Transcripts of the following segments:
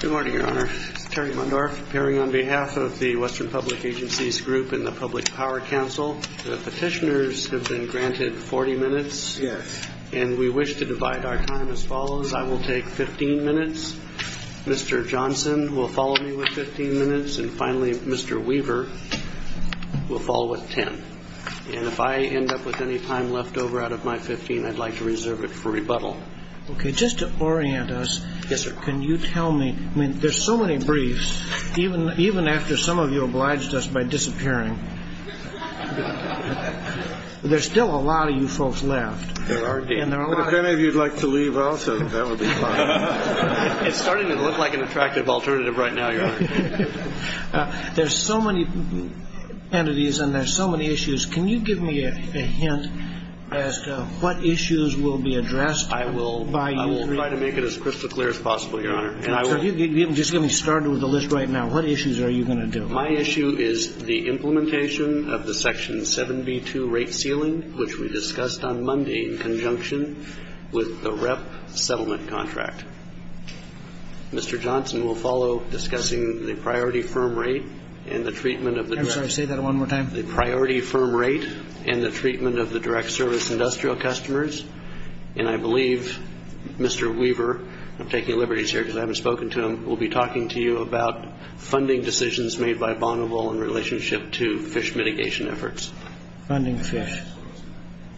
Good morning, Your Honor. Terry Mundar, appearing on behalf of the Western Public Agencies Group and the Public Power Council. The petitioners have been granted 40 minutes, and we wish to divide our time as follows. I will take 15 minutes. Mr. Johnson will follow me with 15 minutes, and finally, Mr. Weaver will follow with 10. And if I end up with any time left over out of my 15, I'd like to reserve it for rebuttal. Okay, just to orient us, can you tell me, I mean, there's so many briefs, even after some of you obliged us by disappearing. There's still a lot of you folks left. There are. If any of you would like to leave also, that would be fine. It's starting to look like an attractive alternative right now, Your Honor. There's so many entities, and there's so many issues. Can you give me a hint as to what issues will be addressed by you? I will try to make it as crystal clear as possible, Your Honor. Let me start with the list right now. What issues are you going to do? My issue is the implementation of the Section 7B2 rate ceiling, which we discussed on Monday in conjunction with the REP settlement contract. Mr. Johnson will follow discussing the priority firm rate and the treatment of the direct service industrial customers. And I believe Mr. Weaver, I'm taking liberties here because I haven't spoken to him, will be talking to you about funding decisions made by Bonneville in relationship to fish mitigation efforts. Funding fish.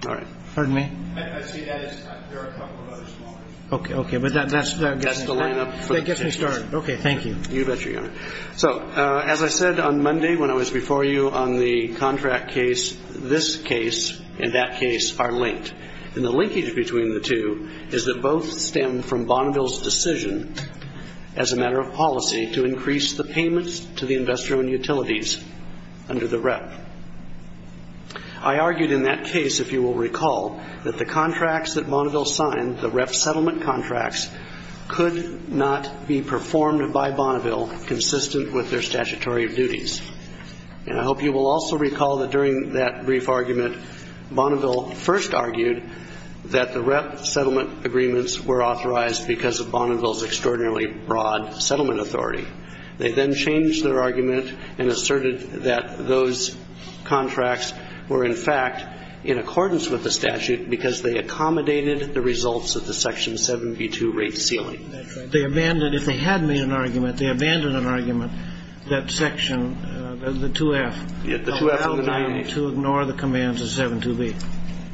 All right. Pardon me? I see that is cut. There are a couple of other small issues. Okay, but that's the line up. That's the line up. Okay, thank you. You betcha, Your Honor. So, as I said on Monday when I was before you on the contract case, this case and that case are linked. And the linkage between the two is that both stem from Bonneville's decision as a matter of policy to increase the payments to the investor and utilities under the REP. I argued in that case, if you will recall, that the contracts that Bonneville signed, the REP settlement contracts, could not be performed by Bonneville consistent with their statutory duties. And I hope you will also recall that during that brief argument, Bonneville first argued that the REP settlement agreements were authorized because of Bonneville's extraordinarily broad settlement authority. They then changed their argument and asserted that those contracts were, in fact, in accordance with the statute because they accommodated the results of the Section 7B2 rate ceiling. That's right. They abandoned, if they had made an argument, they abandoned an argument that Section, the 2F, to ignore the commands of 7B2.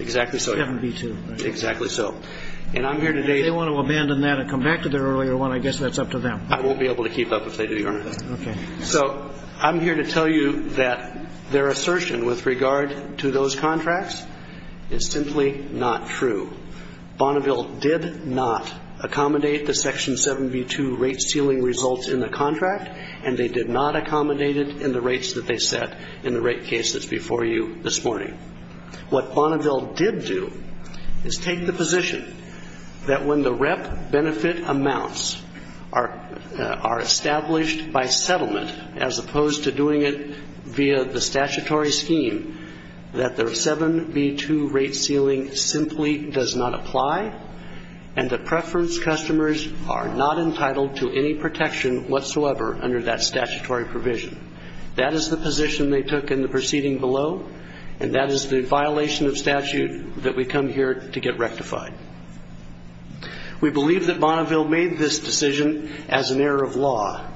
Exactly so. 7B2. Exactly so. And I'm here today... They want to abandon that and come back to the earlier one. I guess that's up to them. I won't be able to keep up if they do, Your Honor. Okay. So I'm here to tell you that their assertion with regard to those contracts is simply not true. Bonneville did not accommodate the Section 7B2 rate ceiling results in the contract, and they did not accommodate it in the rates that they set in the rate cases before you this morning. What Bonneville did do is take the position that when the rep benefit amounts are established by settlement, as opposed to doing it via the statutory scheme, that the 7B2 rate ceiling simply does not apply and the preference customers are not entitled to any protection whatsoever under that statutory provision. That is the position they took in the proceeding below, and that is the violation of statute that we come here to get rectified. We believe that Bonneville made this decision as an error of law,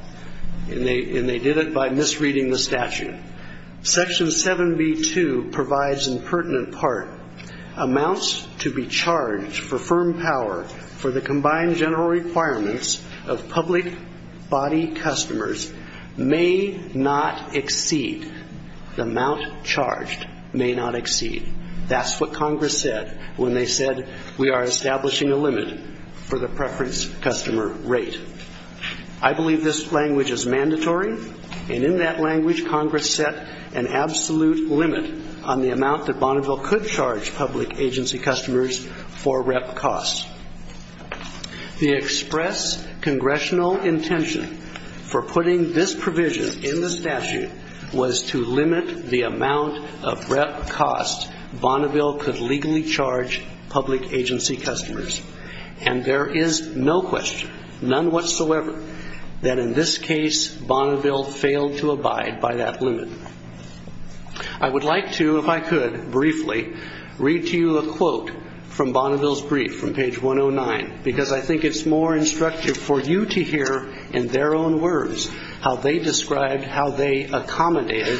and they did it by misreading the statute. Section 7B2 provides, in pertinent part, amounts to be charged for firm power for the combined general requirements of public body customers may not exceed. The amount charged may not exceed. That's what Congress said when they said we are establishing a limit for the preference customer rate. I believe this language is mandatory, and in that language, Congress set an absolute limit on the amount that Bonneville could charge public agency customers for rep costs. The express congressional intention for putting this provision in the statute was to limit the amount of rep costs Bonneville could legally charge public agency customers, and there is no question, none whatsoever, that in this case Bonneville failed to abide by that limit. I would like to, if I could briefly, read to you a quote from Bonneville's brief from page 109, because I think it's more instructive for you to hear in their own words how they described how they accommodated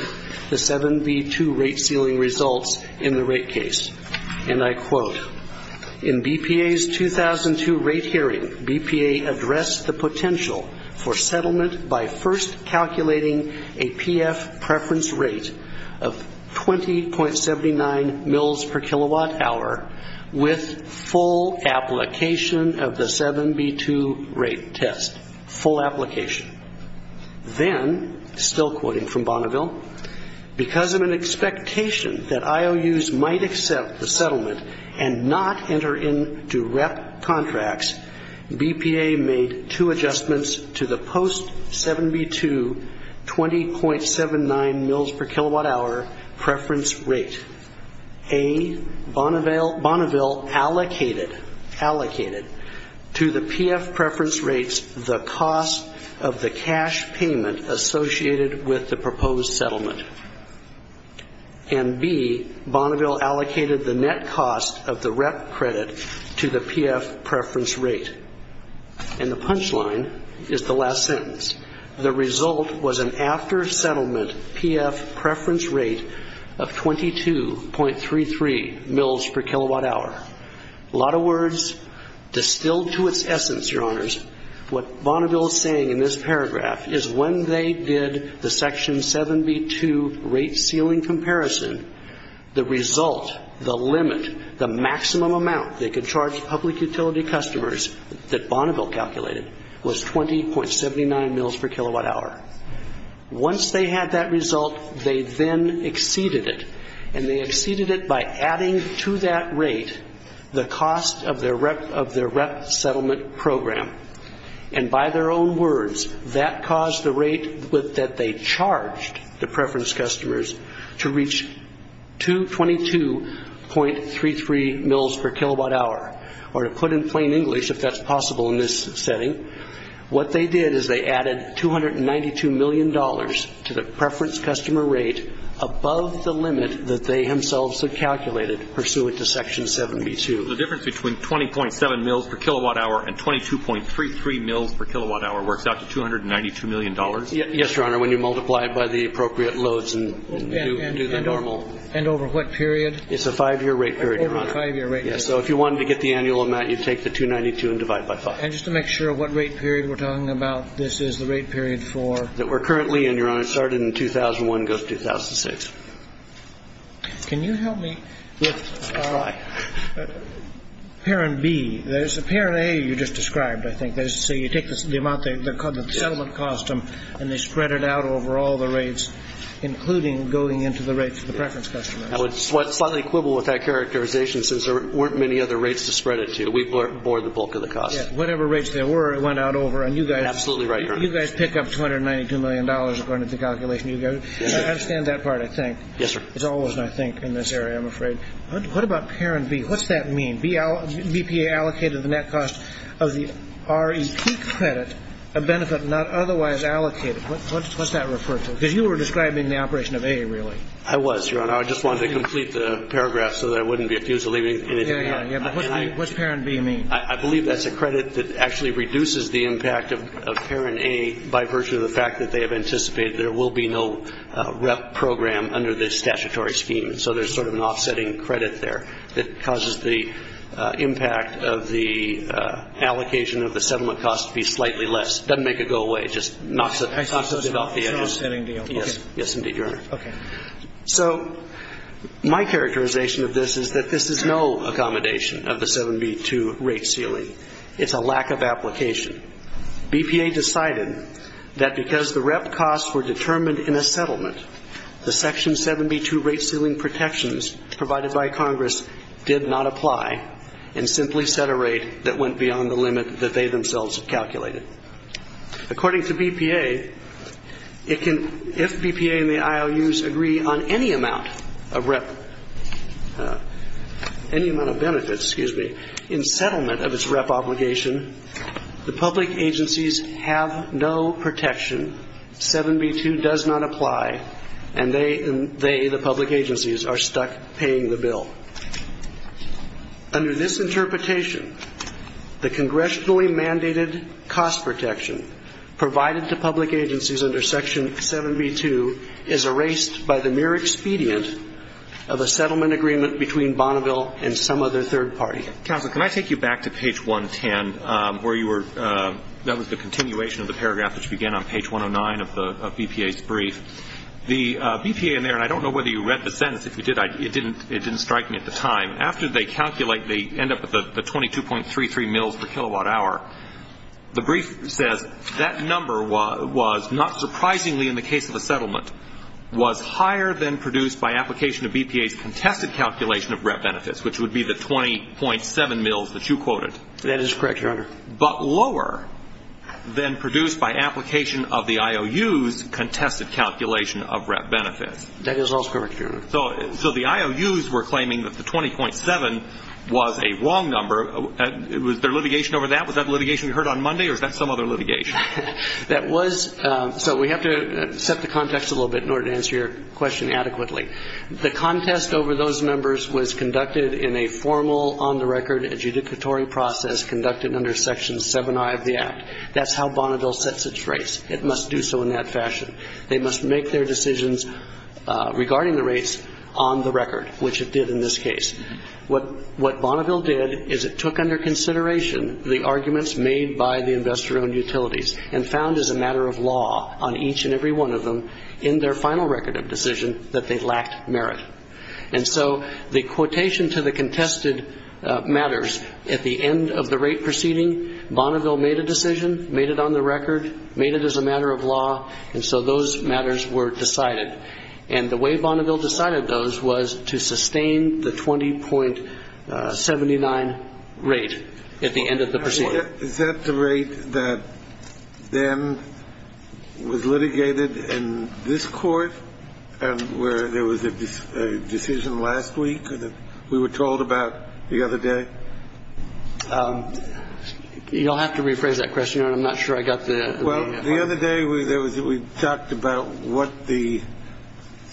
the 7B2 rate ceiling results in the rate case. And I quote, in BPA's 2002 rate hearing, BPA addressed the potential for settlement by first calculating a PF preference rate of 20.79 mils per kilowatt hour with full application of the 7B2 rate test. Full application. Then, still quoting from Bonneville, because of an expectation that IOUs might accept the settlement and not enter into rep contracts, BPA made two adjustments to the post 7B2 20.79 mils per kilowatt hour preference rate. A, Bonneville allocated to the PF preference rates the cost of the cash payment associated with the proposed settlement. And B, Bonneville allocated the net cost of the rep credit to the PF preference rate. And the punchline is the last sentence. The result was an after settlement PF preference rate of 22.33 mils per kilowatt hour. A lot of words distilled to its essence, your honors. What Bonneville is saying in this paragraph is when they did the section 7B2 rate ceiling comparison, the result, the limit, the maximum amount they could charge public utility customers that Bonneville calculated was 20.79 mils per kilowatt hour. Once they had that result, they then exceeded it. And they exceeded it by adding to that rate the cost of their rep settlement program. And by their own words, that caused the rate that they charged the preference customers to reach 222.33 mils per kilowatt hour. Or to put in plain English, if that's possible in this setting, what they did is they added $292 million to the preference customer rate above the limit that they themselves had calculated pursuant to section 7B2. The difference between 20.7 mils per kilowatt hour and 22.33 mils per kilowatt hour works out to $292 million? Yes, your honor, when you multiply it by the appropriate loads and do the normal. And over what period? It's a five-year rate period, your honor. So if you wanted to get the annual amount, you'd take the 292 and divide it by five. And just to make sure, what rate period we're talking about, this is the rate period for? That we're currently in, your honor. It started in 2001 and goes to 2006. Can you help me with parent B? There's a parent A you just described, I think. So you take the amount they're called the settlement cost and they spread it out over all the rates, including going into the rates of the preference customer. What's funnily equivalent with that characterization is there weren't many other rates to spread it to. We bore the bulk of the cost. Whatever rates there were, it went out over. And you guys pick up $292 million, according to the calculation you gave. I understand that part, I think. Yes, sir. It's always an I think in this area, I'm afraid. What about parent B? What's that mean? BPA allocated the net cost of the REP credit, a benefit not otherwise allocated. What's that refer to? Because you were describing the operation of A, really. I was, your honor. I just wanted to complete the paragraph so that I wouldn't be accused of leaving anything out. What's parent B mean? I believe that's a credit that actually reduces the impact of parent A by virtue of the fact that they have anticipated there will be no rep program under this statutory scheme. So there's sort of an offsetting credit there that causes the impact of the allocation of the settlement cost to be slightly less. It doesn't make it go away. It just knocks it off the end. An offsetting deal. Yes, indeed, your honor. Okay. So my characterization of this is that this is no accommodation of the 72 rate ceiling. It's a lack of application. BPA decided that because the REP costs were determined in a settlement, the Section 72 rate ceiling protections provided by Congress did not apply and simply set a rate that went beyond the limit that they themselves calculated. According to BPA, if BPA and the IOUs agree on any amount of benefits in settlement of its REP obligation, the public agencies have no protection. Section 72 does not apply, and they, the public agencies, are stuck paying the bill. Under this interpretation, the congressionally mandated cost protection provided to public agencies under Section 72 is erased by the mere expedient of a settlement agreement between Bonneville and some other third party. Counsel, can I take you back to page 110 where you were, that was the continuation of the paragraph which began on page 109 of BPA's brief. The BPA in there, and I don't know whether you read the sentence. If you did, it didn't strike me at the time. After they calculate, they end up with the 22.33 mils per kilowatt hour. The brief said that number was, not surprisingly in the case of the settlement, was higher than produced by application of BPA's contested calculation of REP benefits, which would be the 20.7 mils that you quoted. That is correct, Your Honor. But lower than produced by application of the IOUs contested calculation of REP benefits. That is also correct, Your Honor. So the IOUs were claiming that the 20.7 was a wrong number. Was there litigation over that? Was that litigation we heard on Monday, or was that some other litigation? That was, so we have to set the context a little bit in order to answer your question adequately. The contest over those numbers was conducted in a formal, on-the-record adjudicatory process conducted under Section 7I of the Act. That's how Bonneville sets its rates. It must do so in that fashion. They must make their decisions regarding the rates on the record, which it did in this case. What Bonneville did is it took under consideration the arguments made by the investor-owned utilities and found as a matter of law on each and every one of them in their final record of decision that they lacked merit. And so the quotation to the contested matters at the end of the rate proceeding, Bonneville made a decision, made it on the record, made it as a matter of law, and so those matters were decided. And the way Bonneville decided those was to sustain the 20.79 rate at the end of the proceeding. Is that the rate that then was litigated in this court where there was a decision last week that we were told about the other day? You'll have to rephrase that question. I'm not sure I got the— Well, the other day we talked about what the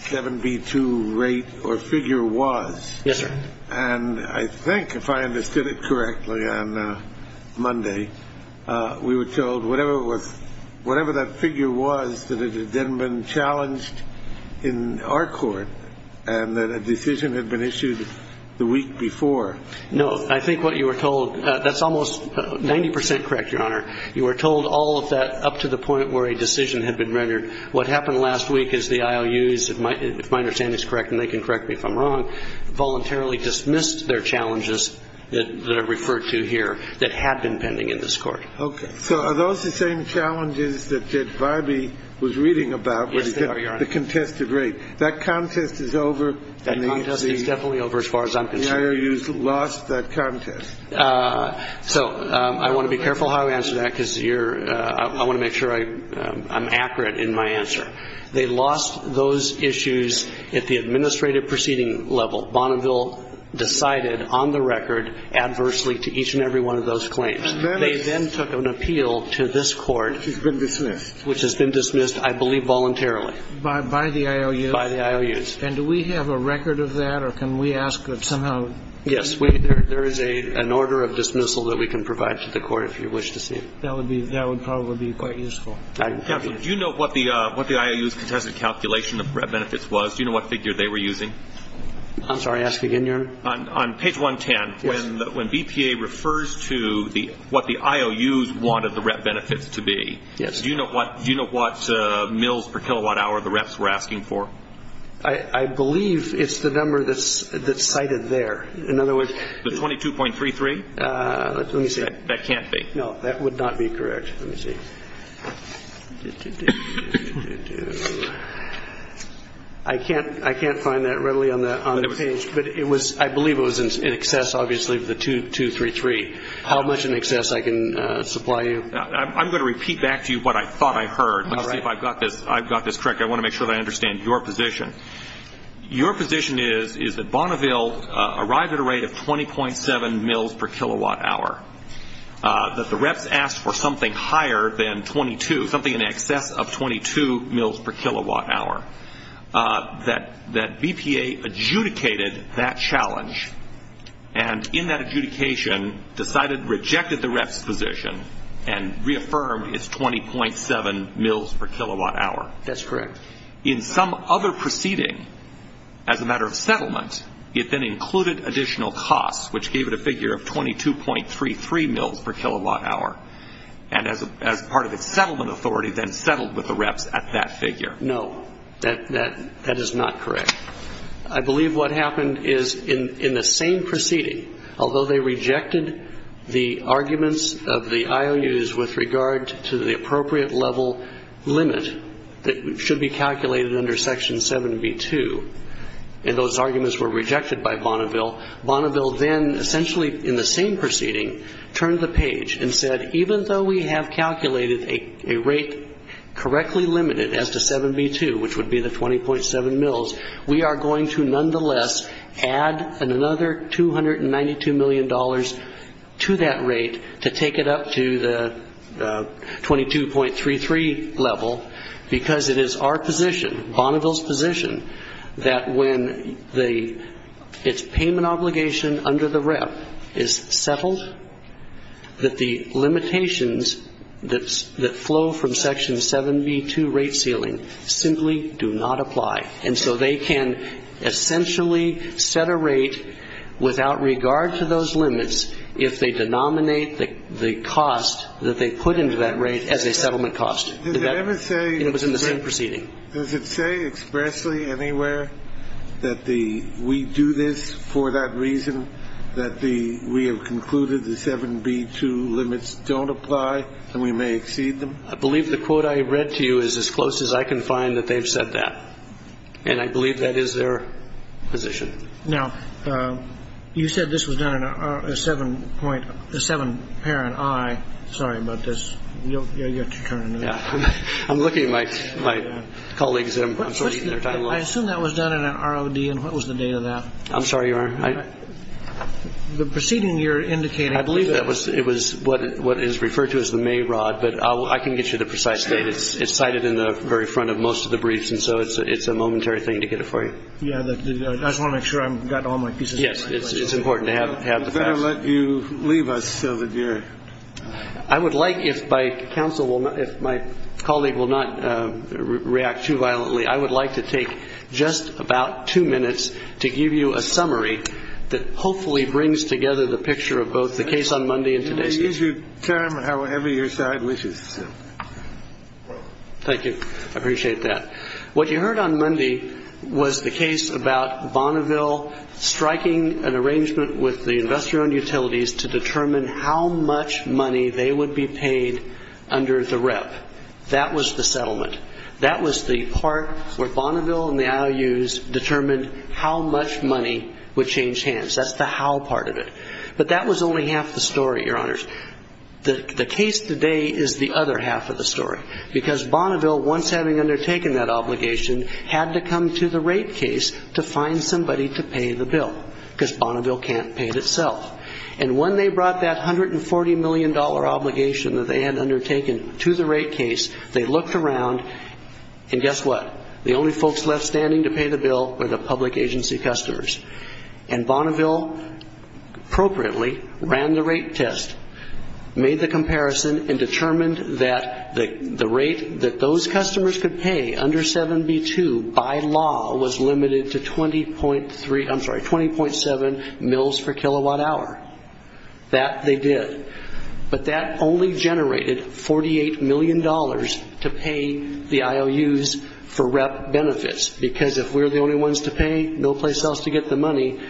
7B2 rate or figure was. Yes, sir. And I think if I understood it correctly on Monday, we were told whatever that figure was that it had been challenged in our court and that a decision had been issued the week before. No, I think what you were told—that's almost 90 percent correct, Your Honor. You were told all of that up to the point where a decision had been rendered. What happened last week is the IOUs, if my understanding is correct and they can correct me if I'm wrong, voluntarily dismissed their challenges that I've referred to here that had been pending in this court. Okay. So are those the same challenges that Vibey was reading about with the contested rate? Yes, they are, Your Honor. That contest is over? That contest is definitely over as far as I'm concerned. The IOUs lost that contest. So I want to be careful how I answer that because I want to make sure I'm accurate in my answer. They lost those issues at the administrative proceeding level. Bonneville decided on the record adversely to each and every one of those claims. They then took an appeal to this court. Which has been dismissed. Which has been dismissed, I believe, voluntarily. By the IOUs? By the IOUs. And do we have a record of that or can we ask that somehow? Yes, there is an order of dismissal that we can provide to the court if you wish to see. That would probably be quite useful. Kevin, do you know what the IOU's contested calculation of RET benefits was? Do you know what figure they were using? I'm sorry. Ask again, Your Honor. On page 110, when BPA refers to what the IOUs wanted the RET benefits to be, do you know what mils per kilowatt hour the RETs were asking for? I believe it's the number that's cited there. In other words. The 22.33? Let me see. That can't be. No, that would not be correct. Let me see. I can't find that readily on the page. But I believe it was in excess, obviously, of the 22.33. How much in excess I can supply you? I'm going to repeat back to you what I thought I heard. Let's see if I've got this correct. I want to make sure that I understand your position. Your position is that Bonneville arrives at a rate of 20.7 mils per kilowatt hour. That the RETs asked for something higher than 22, something in excess of 22 mils per kilowatt hour. That BPA adjudicated that challenge. And in that adjudication decided to reject the RETs' position and reaffirmed its 20.7 mils per kilowatt hour. That's correct. In some other proceeding, as a matter of settlement, it then included additional costs, which gave it a figure of 22.33 mils per kilowatt hour. And as part of its settlement authority then settled with the RETs at that figure. No, that is not correct. I believe what happened is in the same proceeding, although they rejected the arguments of the IOUs with regard to the appropriate level limit that should be calculated under Section 72, and those arguments were rejected by Bonneville, Bonneville then essentially in the same proceeding turned the page and said even though we have calculated a rate correctly limited as to 72, which would be the 20.7 mils, we are going to nonetheless add another $292 million to that rate to take it up to the 22.33 level because it is our position, Bonneville's position, that when its payment obligation under the RET is settled, that the limitations that flow from Section 72 rate ceiling simply do not apply. And so they can essentially set a rate without regard to those limits if they denominate the cost that they put into that rate as a settlement cost. Does it say expressly anywhere that we do this for that reason, that we have concluded the 7B2 limits don't apply and we may exceed them? I believe the quote I read to you is as close as I can find that they've said that, and I believe that is their position. Now, you said this was done in a seven-parent I. Sorry about this. I'm looking at my colleagues. I assume that was done in an ROD, and what was the date of that? I'm sorry, Your Honor. The proceeding you're indicating, I believe it was. It was what is referred to as the May rod, but I can get you the precise date. It's cited in the very front of most of the briefs, and so it's a momentary thing to get it for you. I just want to make sure I've got all my pieces. Yes, it's important to have the facts. I'd better let you leave us so that you're... I would like, if my colleague will not react too violently, I would like to take just about two minutes to give you a summary that hopefully brings together the picture of both the case on Monday and today's case. You may use your term however you decide. Thank you. I appreciate that. What you heard on Monday was the case about Bonneville striking an arrangement with the investor and utilities to determine how much money they would be paid under the rep. That was the settlement. That was the part where Bonneville and the IOUs determined how much money would change hands. That's the how part of it. But that was only half the story, Your Honors. The case today is the other half of the story, because Bonneville, once having undertaken that obligation, had to come to the rate case to find somebody to pay the bill because Bonneville can't pay it itself. When they brought that $140 million obligation that they had undertaken to the rate case, they looked around, and guess what? The only folks left standing to pay the bill were the public agency customers. Bonneville, appropriately, ran the rate test, made the comparison, and determined that the rate that those customers could pay under 7b-2 by law was limited to 20.3, I'm sorry, 20.7 mils per kilowatt hour. That they did. But that only generated $48 million to pay the IOUs for rep benefits, because if we're the only ones to pay, no place else to get the money,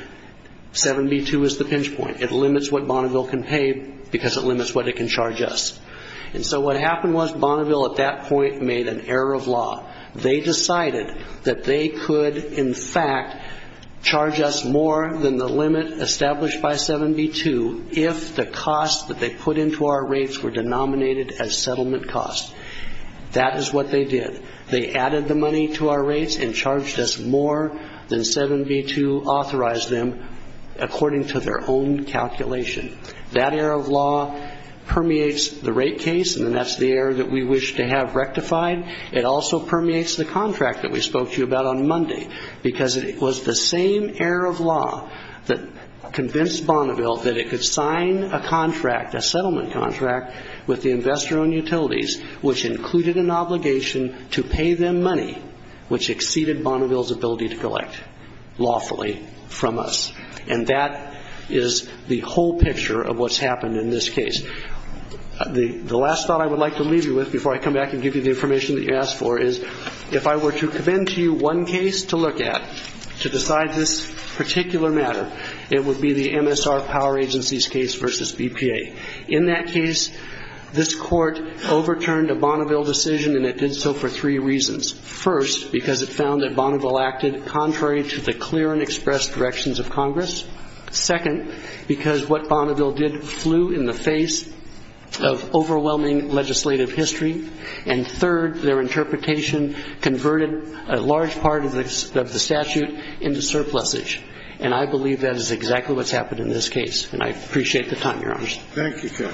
7b-2 is the pinch point. It limits what Bonneville can pay because it limits what it can charge us. And so what happened was Bonneville, at that point, made an error of law. They decided that they could, in fact, charge us more than the limit established by 7b-2 if the costs that they put into our rates were denominated as settlement costs. That is what they did. They added the money to our rates and charged us more than 7b-2 authorized them, according to their own calculation. That error of law permeates the rate case, and that's the error that we wish to have rectified. It also permeates the contract that we spoke to you about on Monday because it was the same error of law that convinced Bonneville that it could sign a contract, a settlement contract, with the investor on utilities, which included an obligation to pay them money, which exceeded Bonneville's ability to collect lawfully from us. And that is the whole picture of what's happened in this case. The last thought I would like to leave you with before I come back and give you the information that you asked for is if I were to commend to you one case to look at to decide this particular matter, it would be the MSR Power Agencies case versus BPA. In that case, this court overturned a Bonneville decision, and it did so for three reasons. First, because it found that Bonneville acted contrary to the clear and expressed directions of Congress. Second, because what Bonneville did flew in the face of overwhelming legislative history. And third, their interpretation converted a large part of the statute into surplusage. And I believe that is exactly what's happened in this case. And I appreciate the time, Your Honors. Thank you, Judge.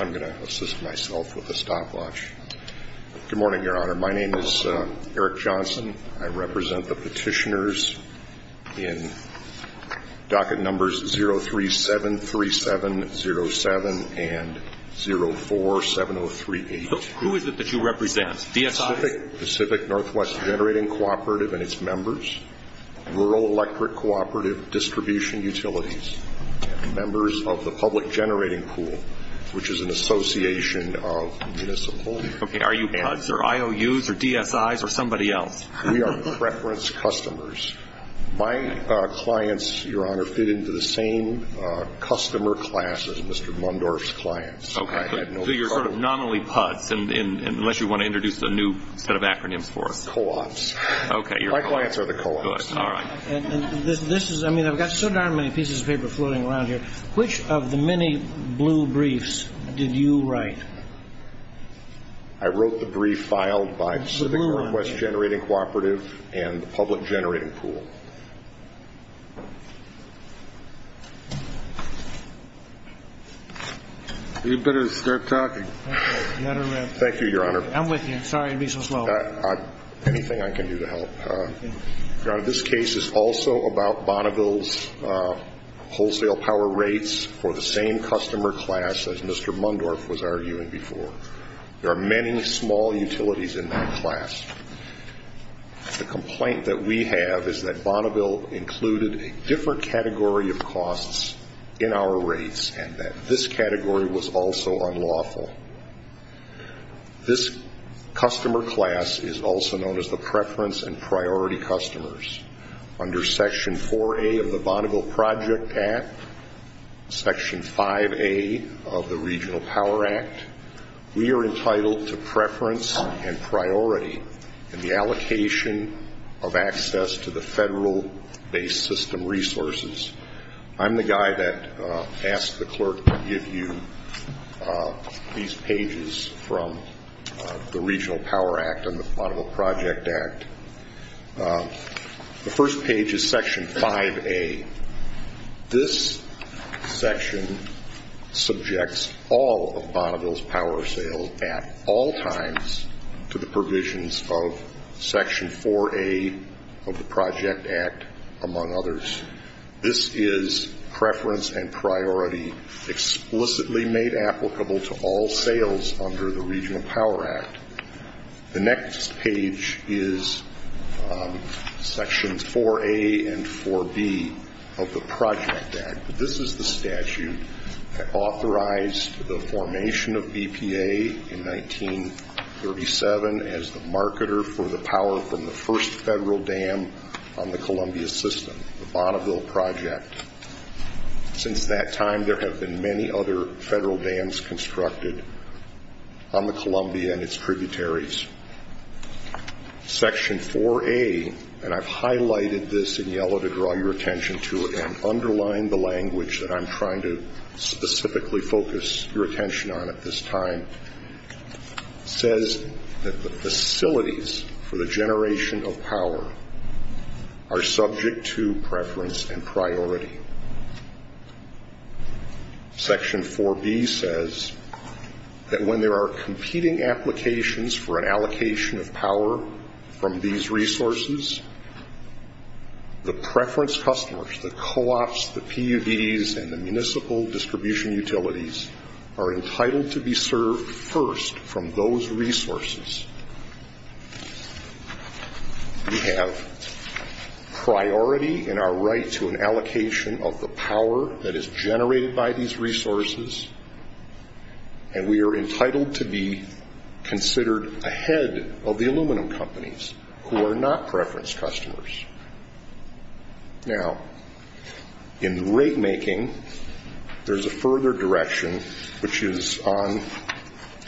I'm going to assist myself with a stopwatch. Good morning, Your Honor. My name is Eric Johnson. I represent the petitioners in docket numbers 0373707 and 0470382. Who is it that you represent, DSI? Pacific Northwest Generating Cooperative and its members, Rural Electric Cooperative Distribution Utilities, members of the Public Generating Pool, which is an association of municipal- Okay, are you PUDs or IOUs or DSIs or somebody else? We are preference customers. My clients, Your Honor, fit into the same customer class as Mr. Mundorf's clients. Okay. So you're sort of not only PUDs, unless you want to introduce a new set of acronyms for it. Co-ops. Okay. My clients are the co-ops. Good. All right. I mean, I've got so darn many pieces of paper floating around here. Which of the many blue briefs did you write? I wrote the brief filed by Pacific Northwest Generating Cooperative and the Public Generating Pool. You'd better start talking. Thank you, Your Honor. I'm with you. Sorry to be so slow. Anything I can do to help. Your Honor, this case is also about Bonneville's wholesale power rates for the same customer class as Mr. Mundorf was arguing before. There are many small utilities in that class. The complaint that we have is that Bonneville included a different category of costs in our rates and that this category was also unlawful. This customer class is also known as the preference and priority customers. Under Section 4A of the Bonneville Project Act, Section 5A of the Regional Power Act, we are entitled to preference and priority in the allocation of access to the federal-based system resources. I'm the guy that asked the clerk to give you these pages from the Regional Power Act and the Bonneville Project Act. The first page is Section 5A. This section subjects all of Bonneville's power sales at all times to the provisions of Section 4A of the Project Act, among others. This is preference and priority explicitly made applicable to all sales under the Regional Power Act. The next page is Sections 4A and 4B of the Project Act. This is the statute that authorized the formation of EPA in 1937 as the marketer for the power from the first federal dam on the Columbia system. The Bonneville Project. Since that time, there have been many other federal dams constructed on the Columbia and its tributaries. Section 4A, and I've highlighted this in yellow to draw your attention to it and underline the language that I'm trying to specifically focus your attention on at this time, says that the facilities for the generation of power are subject to preference and priority. Section 4B says that when there are competing applications for an allocation of power from these resources, the preference customers, the co-ops, the PUVs, and the municipal distribution utilities are entitled to be served first from those resources. We have priority in our right to an allocation of the power that is generated by these resources and we are entitled to be considered ahead of the aluminum companies who are not preference customers. Now, in rate making, there's a further direction which is on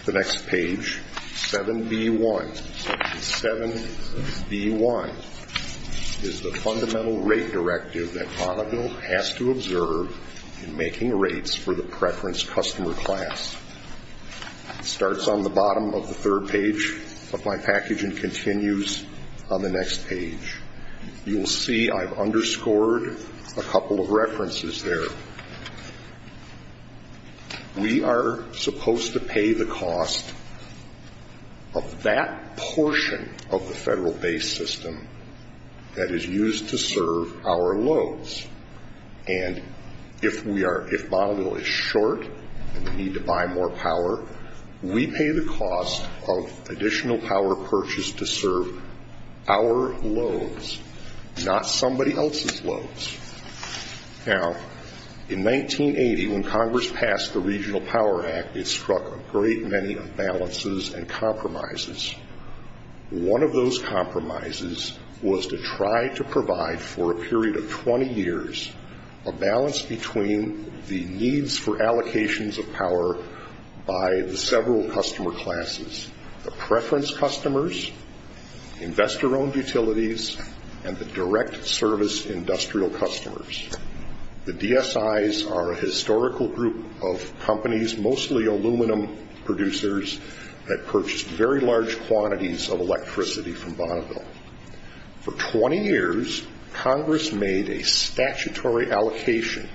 the next page, 7B1. Section 7B1 is the fundamental rate directive that Bonneville has to observe in making rates for the preference customer class. It starts on the bottom of the third page of my package and continues on the next page. You'll see I've underscored a couple of references there. We are supposed to pay the cost of that portion of the federal-based system that is used to serve our loads. And if Bonneville is short and we need to buy more power, we pay the cost of additional power purchased to serve our loads, not somebody else's loads. Now, in 1980, when Congress passed the Regional Power Act, it struck a great many imbalances and compromises. One of those compromises was to try to provide for a period of 20 years a balance between the needs for allocations of power by the several customer classes, the preference customers, investor-owned utilities, and the direct service industrial customers. The DSIs are a historical group of companies, mostly aluminum producers, that purchased very large quantities of electricity from Bonneville. For 20 years, Congress made a statutory allocation,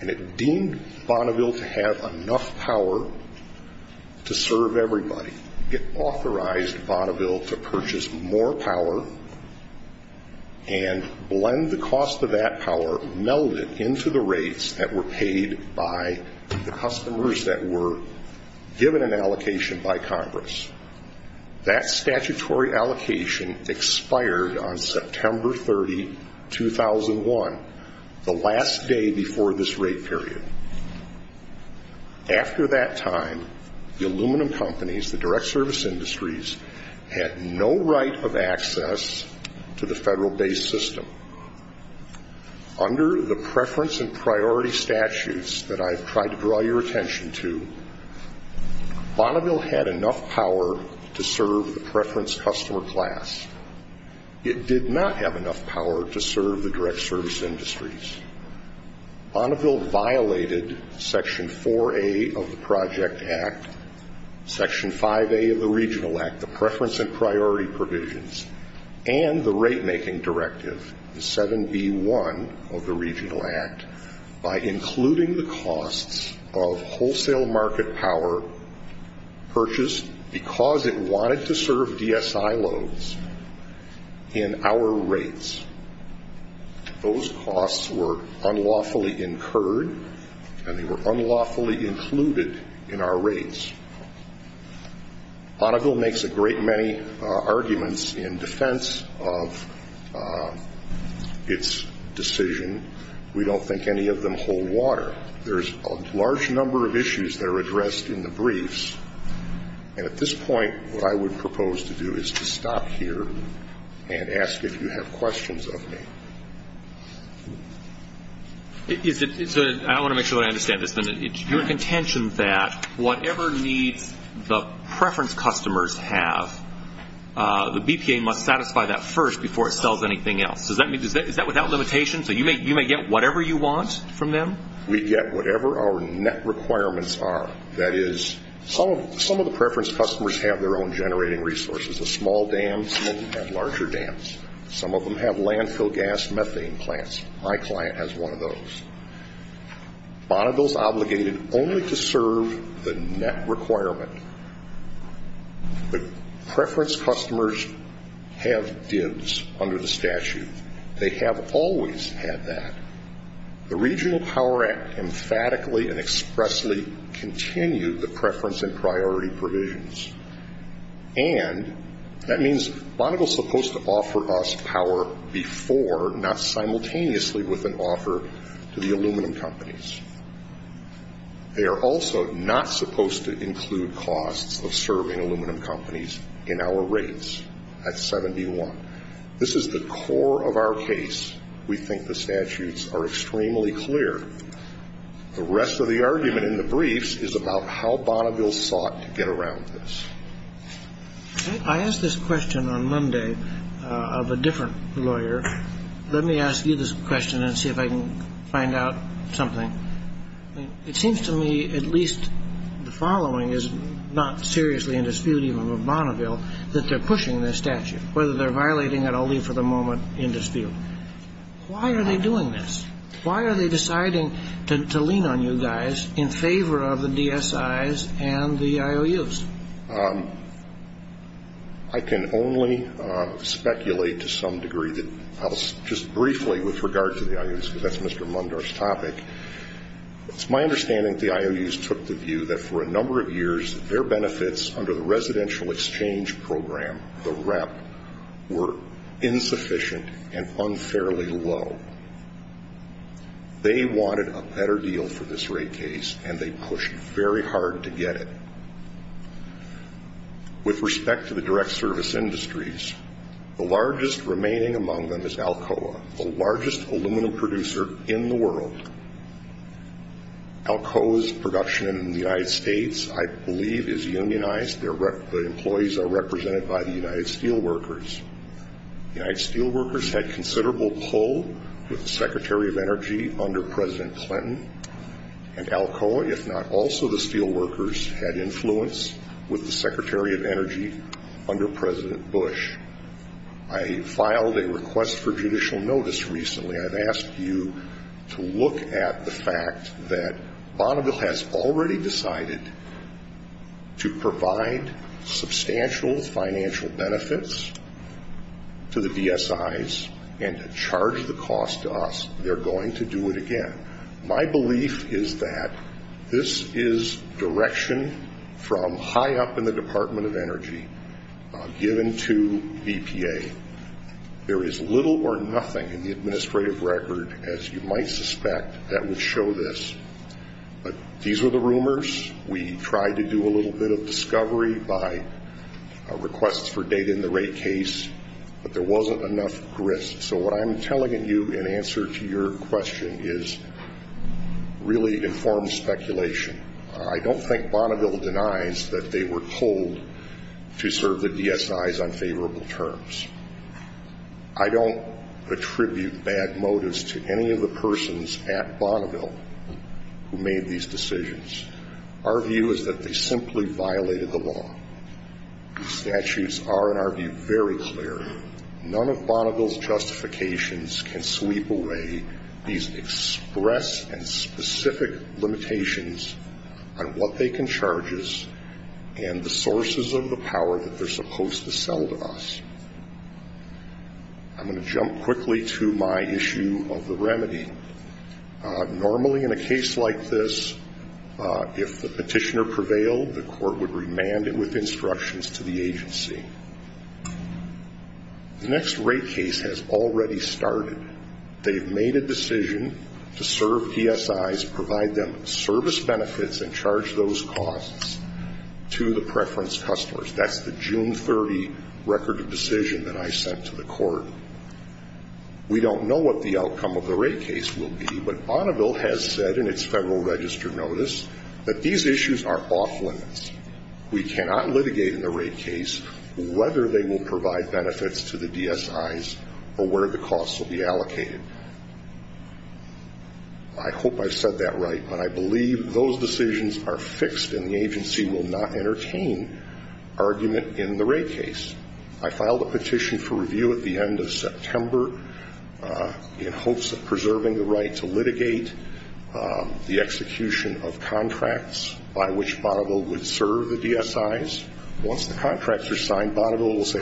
and it deemed Bonneville to have enough power to serve everybody. It authorized Bonneville to purchase more power and blend the cost of that power, meld it into the rates that were paid by the customers that were given an allocation by Congress. That statutory allocation expired on September 30, 2001, the last day before this rate period. After that time, the aluminum companies, the direct service industries, had no right of access to the federal-based system. Under the preference and priority statutes that I've tried to draw your attention to, Bonneville had enough power to serve the preference customer class. It did not have enough power to serve the direct service industries. Bonneville violated Section 4A of the Project Act, Section 5A of the Regional Act, the preference and priority provisions, and the rate-making directive, the 7B1 of the Regional Act, by including the costs of wholesale market power purchased because it wanted to serve DSI loads in our rates. Those costs were unlawfully incurred, and they were unlawfully included in our rates. Bonneville makes a great many arguments in defense of its decision. We don't think any of them hold water. There's a large number of issues that are addressed in the briefs, and at this point what I would propose to do is to stop here and ask if you have questions of me. I want to make sure I understand this. It's your contention that whatever need the preference customers have, the BPA must satisfy that first before it sells anything else. Is that without limitation? So you may get whatever you want from them? We get whatever our net requirements are. That is, some of the preference customers have their own generating resources. The small dams have larger dams. Some of them have landfill gas methane plants. My client has one of those. Bonneville is obligated only to serve the net requirement, but preference customers have dibs under the statute. They have always had that. The Regional Power Act emphatically and expressly continued the preference and priority provisions, and that means Bonneville is supposed to offer us power before, not simultaneously with an offer to the aluminum companies. They are also not supposed to include costs of serving aluminum companies in our rates at 71. This is the core of our case. We think the statutes are extremely clear. The rest of the argument in the briefs is about how Bonneville sought to get around this. I asked this question on Monday of a different lawyer. Let me ask you this question and see if I can find out something. It seems to me at least the following is not seriously in dispute even with Bonneville, that they're pushing this statute, whether they're violating it. I'll leave for the moment in dispute. Why are they doing this? Why are they deciding to lean on you guys in favor of the DSIs and the IOUs? I can only speculate to some degree just briefly with regard to the IOUs because that's Mr. Lundar's topic. It's my understanding that the IOUs took the view that for a number of years, their benefits under the residential exchange program, the REP, were insufficient and unfairly low. They wanted a better deal for this rate case, and they pushed very hard to get it. With respect to the direct service industries, the largest remaining among them is Alcoa, Alcoa's production in the United States, I believe, is unionized. The employees are represented by the United Steelworkers. The United Steelworkers had considerable pull with the Secretary of Energy under President Clinton, and Alcoa, if not also the Steelworkers, had influence with the Secretary of Energy under President Bush. I filed a request for judicial notice recently. I've asked you to look at the fact that Bonneville has already decided to provide substantial financial benefits to the DSIs and to charge the cost to us. They're going to do it again. My belief is that this is direction from high up in the Department of Energy given to EPA. There is little or nothing in the administrative record, as you might suspect, that would show this. But these were the rumors. We tried to do a little bit of discovery by requests for data in the rate case, but there wasn't enough risk. So what I'm telling you in answer to your question is really informed speculation. I don't think Bonneville denies that they were told to serve the DSIs on favorable terms. I don't attribute bad motives to any of the persons at Bonneville who made these decisions. Our view is that they simply violated the law. The statutes are, in our view, very clear. None of Bonneville's justifications can sweep away these express and specific limitations on what they can charge us and the sources of the power that they're supposed to sell to us. I'm going to jump quickly to my issue of the remedy. Normally in a case like this, if the petitioner prevailed, the court would remand it with instructions to the agency. The next rate case has already started. They've made a decision to serve DSIs, provide them service benefits, and charge those costs to the preference customers. That's the June 30 record of decision that I sent to the court. We don't know what the outcome of the rate case will be, but Bonneville has said in its Federal Register notice that these issues are off-limits. We cannot litigate in the rate case whether they will provide benefits to the DSIs or where the costs will be allocated. I hope I said that right, but I believe those decisions are fixed and the agency will not entertain argument in the rate case. I filed a petition for review at the end of September in hopes of preserving the right to litigate the execution of contracts by which Bonneville would serve the DSIs. Once the contracts are signed, Bonneville will say,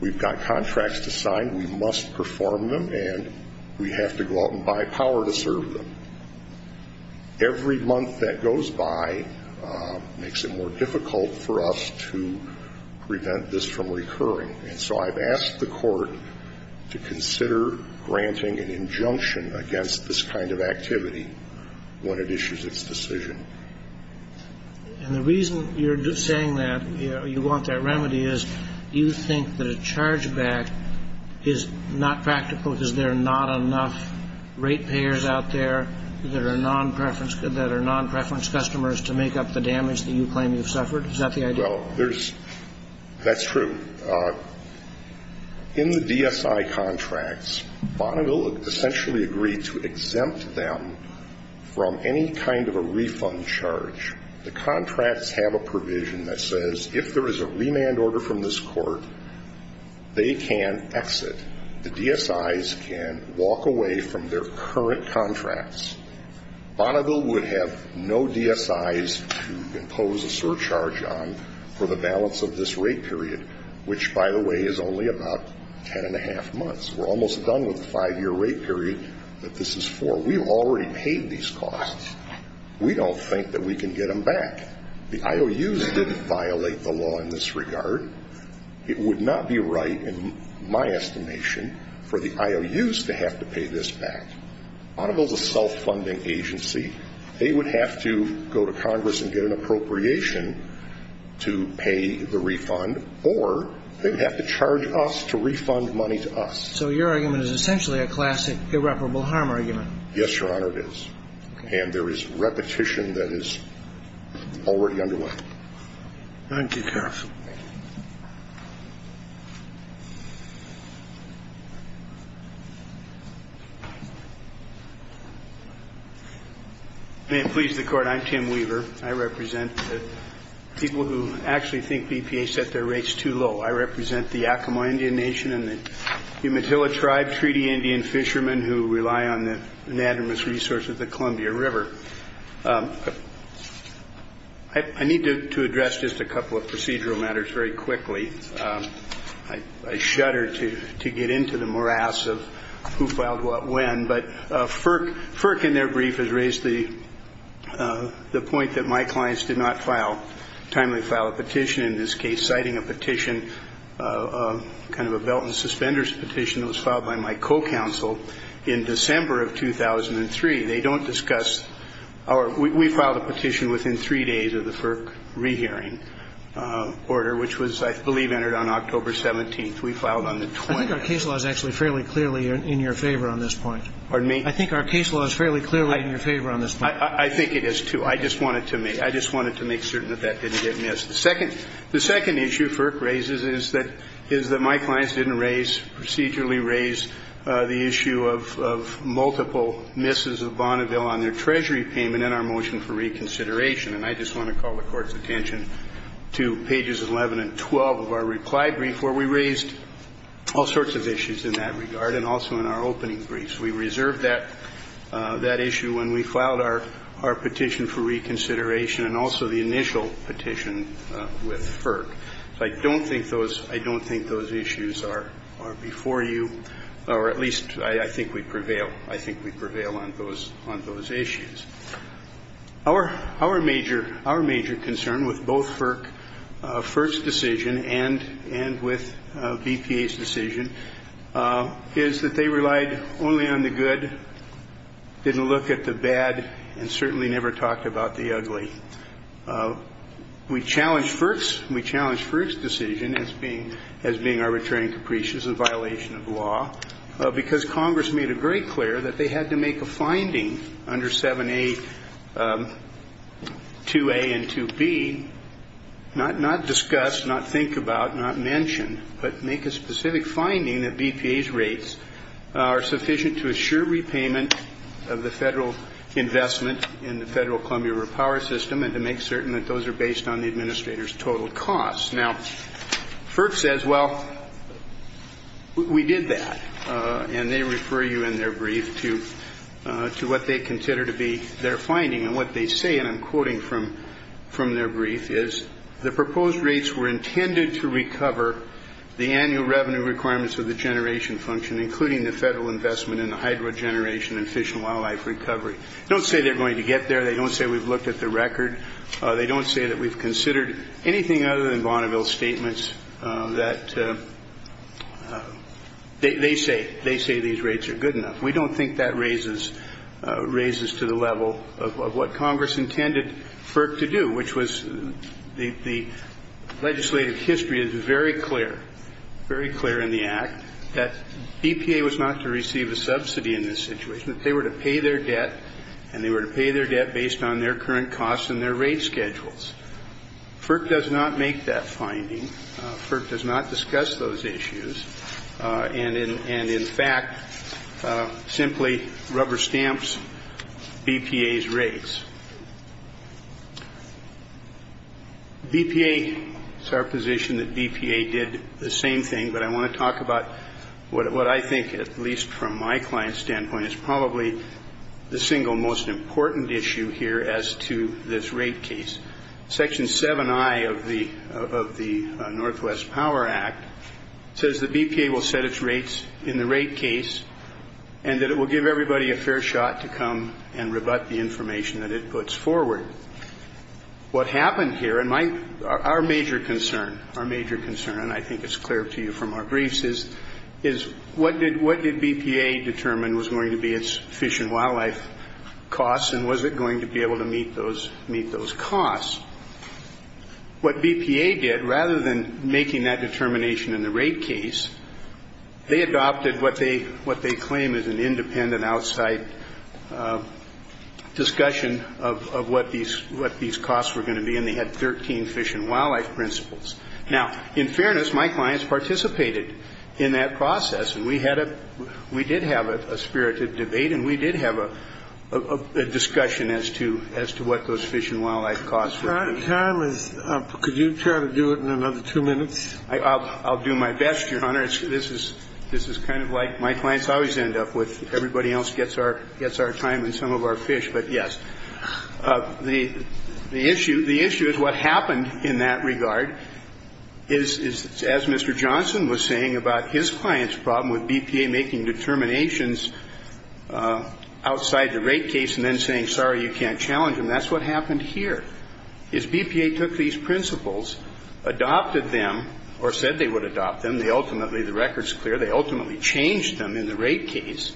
we've got contracts to sign, we must perform them, and we have to go out and buy power to serve them. Every month that goes by makes it more difficult for us to prevent this from recurring. And so I've asked the court to consider granting an injunction against this kind of activity when it issues its decision. And the reason you're saying that you want that remedy is, do you think that a chargeback is not practical because there are not enough rate payers out there that are non-preference customers to make up the damage that you claim you've suffered? That's true. In the DSI contracts, Bonneville essentially agreed to exempt them from any kind of a refund charge. The contracts have a provision that says if there is a remand order from this court, they can exit. The DSIs can walk away from their current contracts. Bonneville would have no DSIs to impose a surcharge on for the balance of this rate period, which, by the way, is only about ten and a half months. We're almost done with the five-year rate period that this is for. We've already paid these costs. We don't think that we can get them back. The IOUs didn't violate the law in this regard. It would not be right, in my estimation, for the IOUs to have to pay this back. Bonneville is a self-funding agency. They would have to go to Congress and get an appropriation to pay the refund, or they would have to charge us to refund money to us. So your argument is essentially a classic irreparable harm argument. Yes, Your Honor, it is. And there is repetition that is already underway. Thank you, counsel. May it please the Court, I'm Tim Weaver. I represent people who actually think DPA set their rates too low. I represent the Yakama Indian Nation and the Umatilla Tribe Treaty Indian fishermen who rely on the unanimous resource of the Columbia River. I need to address just a couple of procedural matters very quickly. I shudder to get into the morass of who filed what when. But FERC, in their brief, has raised the point that my clients did not file, timely file a petition in this case, citing a petition, kind of a belt and suspenders petition that was filed by my co-counsel in December of 2003. They don't discuss, or we filed a petition within three days of the FERC re-hearing order, which was, I believe, entered on October 17th. We filed on the 20th. I think our case law is actually fairly clearly in your favor on this point. Pardon me? I think our case law is fairly clearly in your favor on this point. I think it is, too. I just wanted to make certain that that didn't get missed. The second issue FERC raises is that my clients didn't raise, procedurally raise, the issue of multiple misses of Bonneville on their treasury payment in our motion for reconsideration. And I just want to call the Court's attention to pages 11 and 12 of our reply brief, where we raised all sorts of issues in that regard, and also in our opening briefs. We reserved that issue when we filed our petition for reconsideration and also the initial petition with FERC. I don't think those issues are before you, or at least I think we prevail on those issues. Our major concern with both FERC's first decision and with BPA's decision is that they relied only on the good, didn't look at the bad, and certainly never talked about the ugly. We challenged FERC's decision as being arbitrary and capricious, a violation of law, because Congress made it very clear that they had to make a finding under 7a, 2a, and 2b, not discuss, not think about, not mention, but make a specific finding that BPA's rates are sufficient to assure repayment of the federal investment in the federal Columbia River Power System and to make certain that those are based on the administrator's total costs. Now, FERC says, well, we did that. And they refer you in their brief to what they consider to be their finding. And what they say, and I'm quoting from their brief, is the proposed rates were intended to recover the annual revenue requirements of the generation function, including the federal investment in the hydro generation and fish and wildlife recovery. They don't say they're going to get there. They don't say we've looked at the record. They don't say that we've considered anything other than Bonneville's statements that they say these rates are good enough. We don't think that raises to the level of what Congress intended FERC to do, which was the legislative history is very clear, very clear in the act, that BPA was not to receive a subsidy in this situation. If they were to pay their debt, and they were to pay their debt based on their current costs and their rate schedules. FERC does not make that finding. FERC does not discuss those issues. And, in fact, simply rubber stamps BPA's rates. BPA, it's our position that BPA did the same thing, but I want to talk about what I think, at least from my client's standpoint, is probably the single most important issue here as to this rate case. Section 7I of the Northwest Power Act says that BPA will set its rates in the rate case and that it will give everybody a fair shot to come and rebut the information that it puts forward. What happened here, and our major concern, our major concern, and I think it's clear to you from our briefs, is what did BPA determine was going to be its fish and wildlife costs and was it going to be able to meet those costs? What BPA did, rather than making that determination in the rate case, they adopted what they claim is an independent outside discussion of what these costs were going to be, and they had 13 fish and wildlife principles. Now, in fairness, my clients participated in that process, and we did have a spirited debate and we did have a discussion as to what those fish and wildlife costs were. Could you try to do it in another two minutes? I'll do my best, Your Honor. This is kind of like my clients always end up with. Everybody else gets our time and some of our fish, but yes. The issue is what happened in that regard is, as Mr. Johnson was saying, about his client's problem with BPA making determinations outside the rate case and then saying, sorry, you can't challenge them, that's what happened here. If BPA took these principles, adopted them, or said they would adopt them, ultimately the record's clear, they ultimately changed them in the rate case,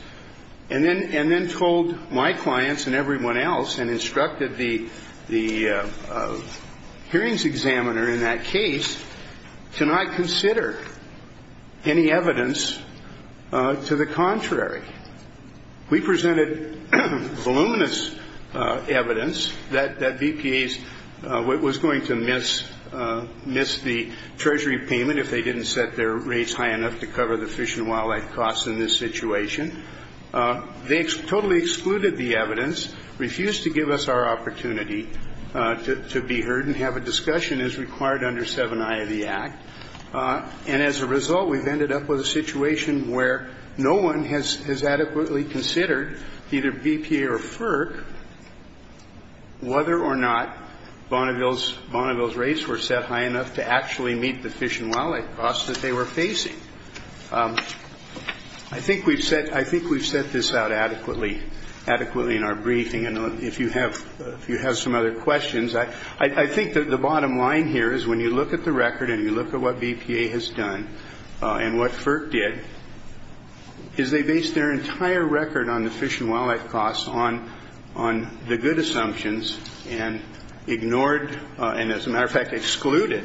and then told my clients and everyone else and instructed the hearings examiner in that case to not consider any evidence to the contrary. We presented voluminous evidence that BPA was going to miss the treasury payment if they didn't set their rates high enough to cover the fish and wildlife costs in this situation. They totally excluded the evidence, refused to give us our opportunity to be heard and have a discussion as required under 7I of the Act, and as a result we've ended up with a situation where no one has adequately considered either BPA or FERC whether or not Bonneville's rates were set high enough to actually meet the fish and wildlife costs that they were facing. I think we've set this out adequately in our briefing, and if you have some other questions, I think that the bottom line here is when you look at the record and you look at what BPA has done and what FERC did, is they based their entire record on the fish and wildlife costs, on the good assumptions, and ignored, and as a matter of fact excluded,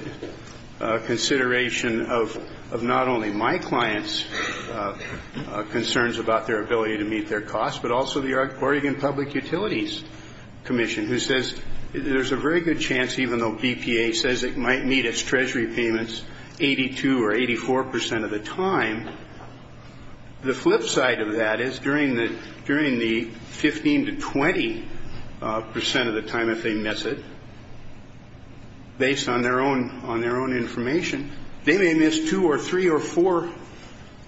consideration of not only my clients' concerns about their ability to meet their costs, but also the Oregon Public Utilities Commission, who says there's a very good chance, even though BPA says it might meet its treasury payments 82 or 84 percent of the time, the flip side of that is during the 15 to 20 percent of the time, if they miss it, based on their own information, they may miss two or three or four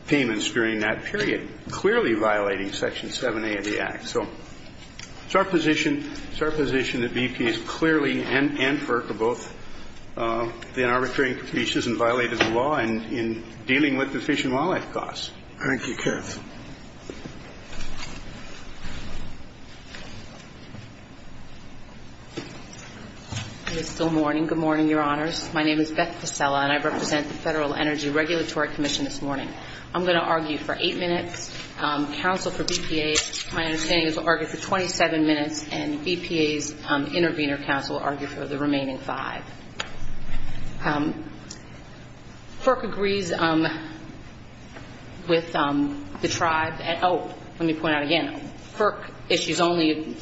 payments during that period, clearly violating Section 7A of the Act. So it's our position that BPA has clearly, and FERC have both, been arbitrary and capricious and violated the law in dealing with the fish and wildlife costs. Thank you. Good morning. Good morning, Your Honors. My name is Beth Pacella, and I represent the Federal Energy Regulatory Commission this morning. I'm going to argue for eight minutes. Counsel for BPA, my opinion, is to argue for 27 minutes, and BPA's intervener counsel will argue for the remaining five. FERC agrees with the tribes. Oh, let me point out again, FERC issues only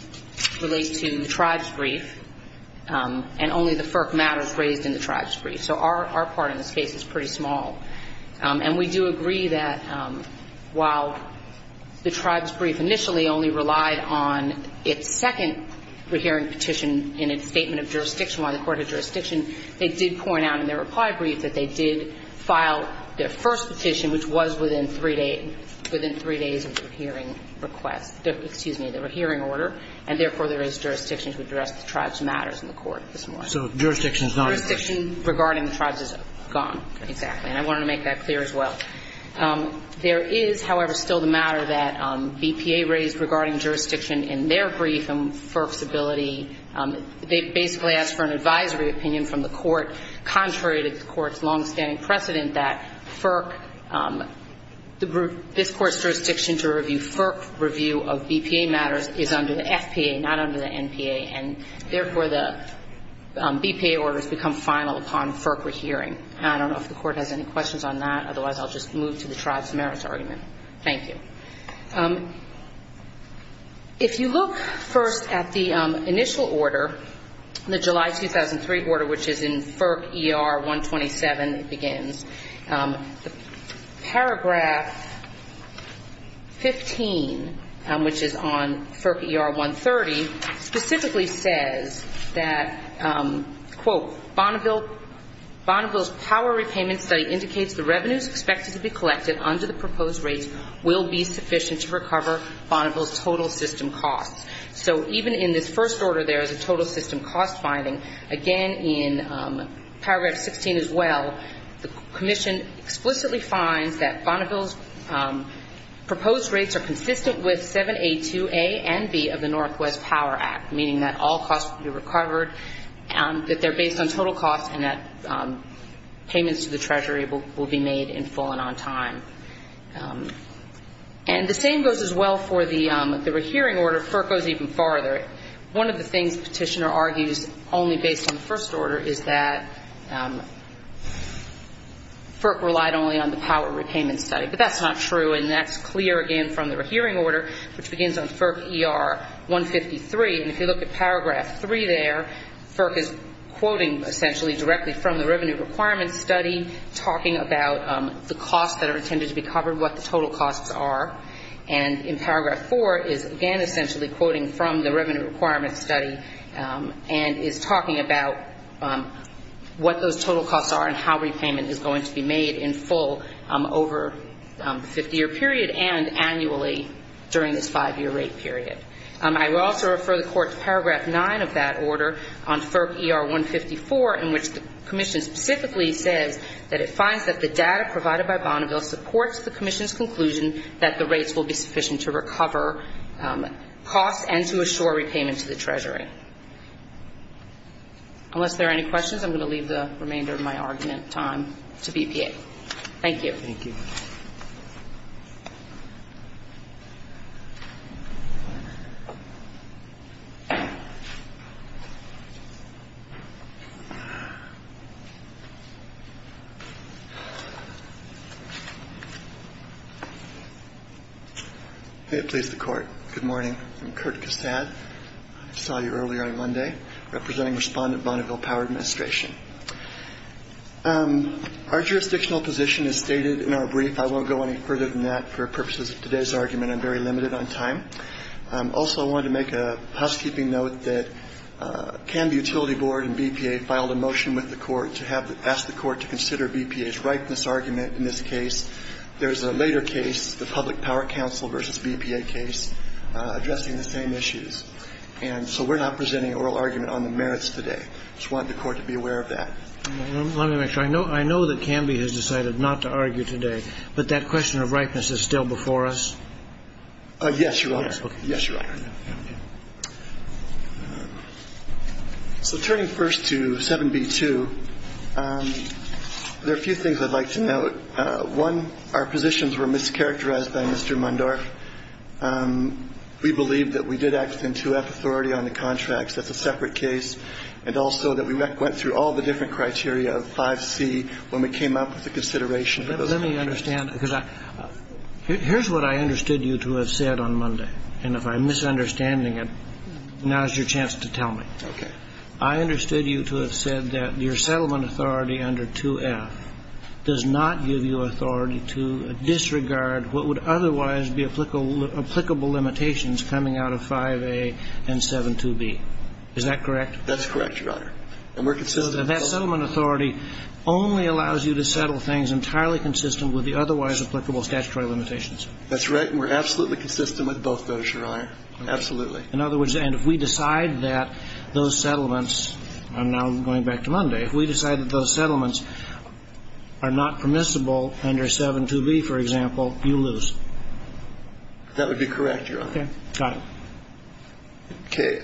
relate to the tribes' brief, and only the FERC matters raised in the tribes' brief. So our part in this case is pretty small. And we do agree that while the tribes' brief initially only relied on its second hearing petition in a statement of jurisdiction by the Court of Jurisdiction, they did point out in their reply brief that they did file their first petition, which was within three days of the hearing request. Excuse me, the hearing order. And therefore, there is jurisdiction to address the tribes' matters in the court this morning. So jurisdiction is not a question. Jurisdiction regarding the tribes is gone. Exactly. And I wanted to make that clear as well. There is, however, still the matter that BPA raised regarding jurisdiction in their brief based on FERC's ability. They basically asked for an advisory opinion from the court, contrary to the court's longstanding precedent that this court's jurisdiction to review FERC review of BPA matters is under the FTA, not under the NTA. And therefore, the BPA order has become final upon FERC's hearing. And I don't know if the court has any questions on that. Otherwise, I'll just move to the tribes' merits argument. Thank you. Okay. If you look first at the initial order, the July 2003 order, which is in FERC ER-127, it begins. Paragraph 15, which is on FERC ER-130, specifically says that, quote, Bonneville's power repayment study indicates the revenues expected to be collected under the proposed rates will be sufficient to recover Bonneville's total system cost. So even in this first order, there is a total system cost finding. Again, in paragraph 15 as well, the commission explicitly finds that Bonneville's proposed rates are consistent with 7A2A and B of the Northwest Power Act, meaning that all costs will be recovered, that they're based on total costs, and that payments to the treasury will be made in full and on time. And the same goes as well for the rehearing order. FERC goes even farther. One of the things the petitioner argues only based on the first order is that FERC relied only on the power repayment study. But that's not true. And that's clear, again, from the rehearing order, which begins on FERC ER-153. If you look at paragraph 3 there, FERC is quoting, essentially, directly from the revenue requirement study, talking about the costs that are intended to be covered, what the total costs are. And in paragraph 4 is, again, essentially quoting from the revenue requirement study and is talking about what those total costs are and how repayment is going to be made in full over a 50-year period and annually during the five-year rate period. I would also refer the court to paragraph 9 of that order on FERC ER-154, in which the commission specifically said that it finds that the data provided by Bonneville supports the commission's conclusion that the rates will be sufficient to recover costs and to assure repayment to the treasury. Unless there are any questions, I'm going to leave the remainder of my argument time to the EPA. Thank you. Thank you. May it please the Court. Good morning. I'm Kurt Gustav. I saw you earlier on Monday, representing Respondent Bonneville Power Administration. Our jurisdictional position is dated in our brief. I won't go any further than that for purposes of today's argument. I'm very limited on time. Also, I wanted to make a housekeeping note that Canby Utility Board and BPA filed a motion with the court to ask the court to consider BPA's rightness argument in this case. There's a later case, the Public Power Council versus BPA case, addressing the same issues. And so we're not presenting an oral argument on the merits today. I just wanted the court to be aware of that. I know that Canby has decided not to argue today, but that question of rightness is still before us? Yes, Your Honor. Yes, Your Honor. Turning first to 7B-2, there are a few things I'd like to note. One, our positions were mischaracterized by Mr. Mundark. We believe that we did act in 2F authority on the contracts. That's a separate case. And also that we went through all the different criteria of 5C when we came up with the considerations. Let me understand, because here's what I understood you to have said on Monday, and if I'm misunderstanding it, now is your chance to tell me. I understood you to have said that your settlement authority under 2F does not give you authority to disregard what would otherwise be applicable limitations coming out of 5A and 7-2B. Is that correct? That's correct, Your Honor. And we're consistent. And that settlement authority only allows you to settle things entirely consistent with the otherwise applicable statutory limitations. That's right, and we're absolutely consistent with both those, Your Honor. Absolutely. In other words, and if we decide that those settlements, and now going back to Monday, if we decide that those settlements are not permissible under 7-2B, for example, you lose. That would be correct, Your Honor. Okay. John. Okay.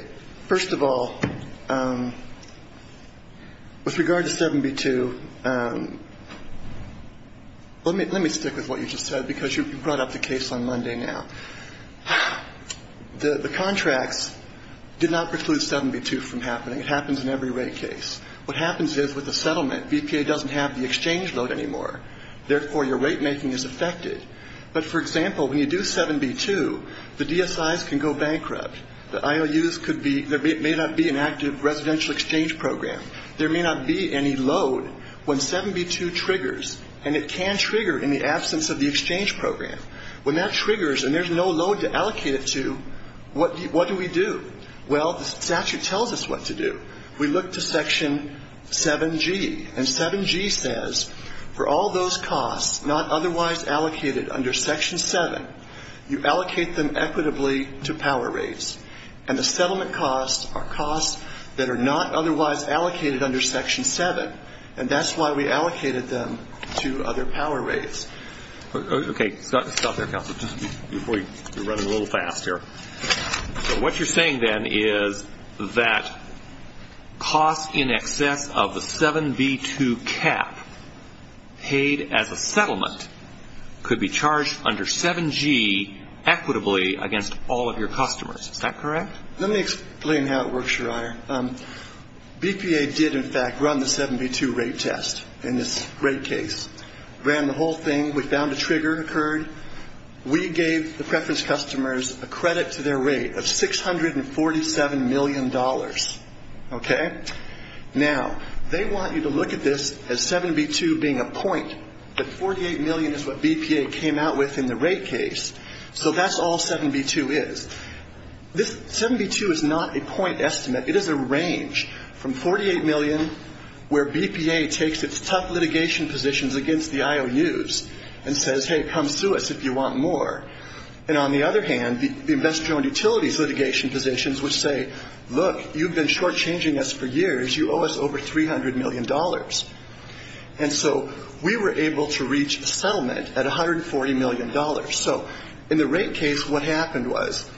First of all, with regard to 7-B-2, let me stick with what you just said, because you brought up the case on Monday now. The contract did not preclude 7-B-2 from happening. It happens in every rate case. What happens is, with a settlement, BPA doesn't have the exchange load anymore. Therefore, your rate making is affected. But, for example, when you do 7-B-2, the DSIs can go bankrupt. The IOUs could be, there may not be an active residential exchange program. There may not be any load. When 7-B-2 triggers, and it can trigger in the absence of the exchange program, when that triggers and there's no load to allocate it to, what do we do? Well, the statute tells us what to do. We look to Section 7-G, and 7-G says, for all those costs not otherwise allocated under Section 7, you allocate them equitably to power rates. And the settlement costs are costs that are not otherwise allocated under Section 7, and that's why we allocated them to other power rates. Okay. Stop there, Counsel. We're running a little fast here. What you're saying, then, is that costs in excess of the 7-B-2 cap paid as a settlement could be charged under 7-G equitably against all of your customers. Is that correct? Let me explain how it works, Schreyer. BPA did, in fact, run the 7-B-2 rate test in this rate case. Ran the whole thing. We found a trigger occurred. We gave the preference customers a credit to their rate of $647 million. Okay. Now, they want you to look at this as 7-B-2 being a point, but $48 million is what BPA came out with in the rate case. So that's all 7-B-2 is. 7-B-2 is not a point estimate. It is a range from $48 million, where BPA takes its tough litigation positions against the IOUs and says, hey, come sue us if you want more. And on the other hand, the investment utilities litigation positions will say, look, you've been shortchanging us for years. You owe us over $300 million. And so we were able to reach a settlement at $140 million. So in the rate case, what happened was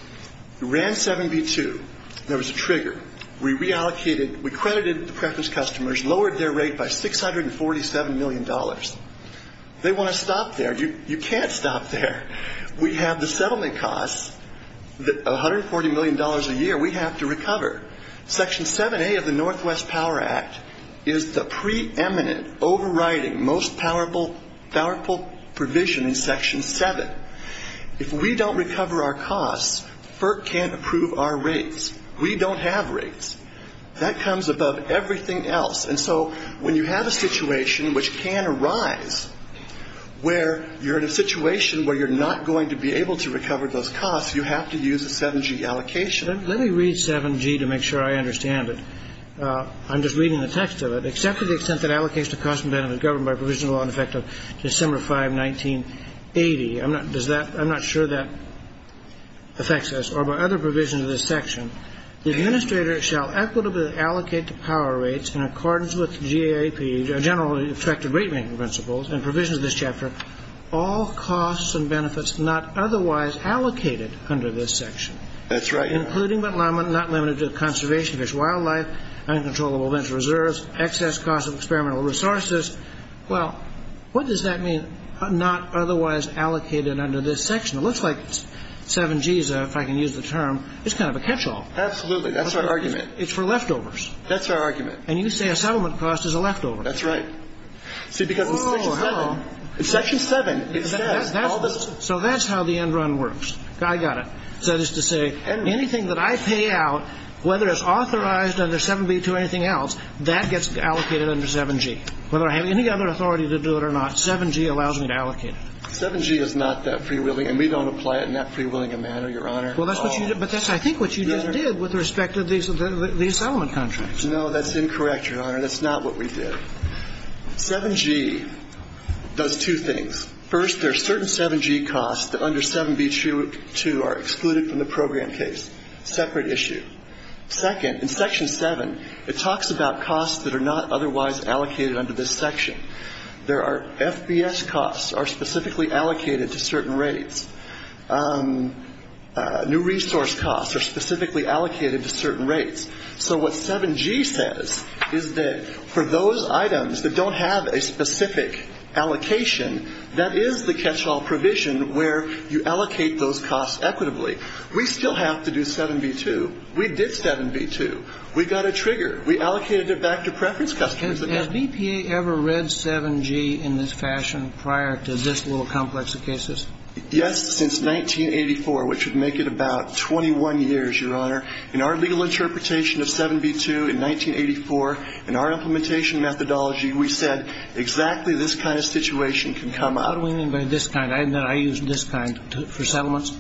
we ran 7-B-2. There was a trigger. We reallocated. We credited the preference customers, lowered their rate by $647 million. They want to stop there. You can't stop there. We have the settlement costs, $140 million a year we have to recover. Section 7A of the Northwest Power Act is the preeminent, overriding, most powerful provision in Section 7. If we don't recover our costs, FERC can't approve our rates. We don't have rates. That comes above everything else. And so when you have a situation, which can arise, where you're in a situation where you're not going to be able to recover those costs, you have to use a 7-G allocation. Let me read 7-G to make sure I understand it. I'm just reading the text of it. Except to the extent that allocation of costs and benefits governed by a provision of law in effect of December 5, 1980. I'm not sure that affects us. Or by other provisions of this section. The administrator shall equitably allocate the power rates in accordance with GAP, generally effective rate-making principles, and provisions of this chapter, all costs and benefits not otherwise allocated under this section. That's right. Including but not limited to conservation, fish and wildlife, uncontrollable venture reserves, excess costs of experimental resources. Well, what does that mean, not otherwise allocated under this section? It looks like 7-G, if I can use the term, is kind of a catch-all. Absolutely. That's our argument. It's for leftovers. That's our argument. And you say a settlement cost is a leftover. That's right. It's Section 7. So that's how the end run works. I got it. That is to say, anything that I pay out, whether it's authorized under 7-B to anything else, that gets allocated under 7-G. Whether I have any other authority to do it or not, 7-G allows me to allocate it. 7-G is not that free-willing, and we don't apply it in that free-willing manner, Your Honor. But that's, I think, what you just did with respect to these settlement contracts. No, that's incorrect, Your Honor. That's not what we did. 7-G does two things. First, there are certain 7-G costs that under 7-B2 are excluded from the program case. Separate issue. Second, in Section 7, it talks about costs that are not otherwise allocated under this section. There are FBS costs are specifically allocated to certain rates. New resource costs are specifically allocated to certain rates. So what 7-G says is that for those items that don't have a specific allocation, that is the catch-all provision where you allocate those costs equitably. We still have to do 7-B2. We did 7-B2. We got a trigger. We allocated it back to preference customers. Has BPA ever read 7-G in this fashion prior to this little complex of cases? Yes, since 1984, which would make it about 21 years, Your Honor. In our legal interpretation of 7-B2 in 1984, in our implementation methodology, we said exactly this kind of situation can come up. What do we mean by this kind? I use this kind for settlements.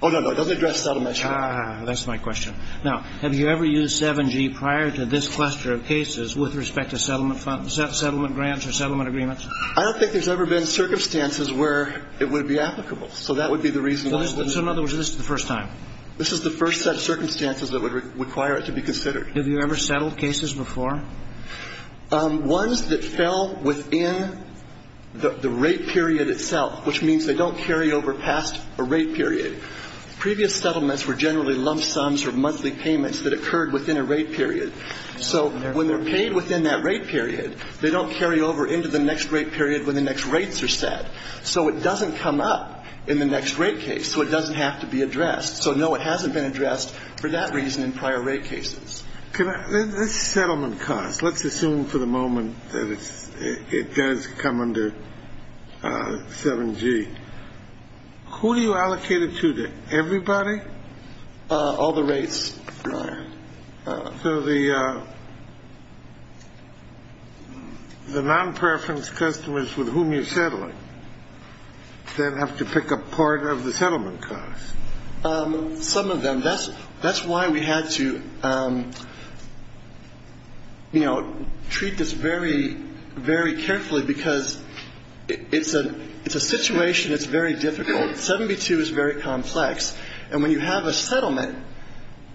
Oh, no, no. It doesn't address settlements. That's my question. Now, have you ever used 7-G prior to this cluster of cases with respect to settlement grants or settlement agreements? I don't think there's ever been circumstances where it would be applicable. So that would be the reason why. So, in other words, this is the first time. This is the first set of circumstances that would require it to be considered. Have you ever settled cases before? Ones that fell within the rate period itself, which means they don't carry over past a rate period. Previous settlements were generally lump sums or monthly payments that occurred within a rate period. So when they're paid within that rate period, they don't carry over into the next rate period when the next rates are set. So it doesn't come up in the next rate case. So it doesn't have to be addressed. So, no, it hasn't been addressed for that reason in prior rate cases. Okay. This settlement cost, let's assume for the moment that it does come under 7-G. Who do you allocate it to then? Everybody? All the rates. So the non-preference customers with whom you're settling, they'd have to pick up part of the settlement cost. Some of them. That's why we had to, you know, treat this very, very carefully because it's a situation that's very difficult. 7-G-2 is very complex. And when you have a settlement,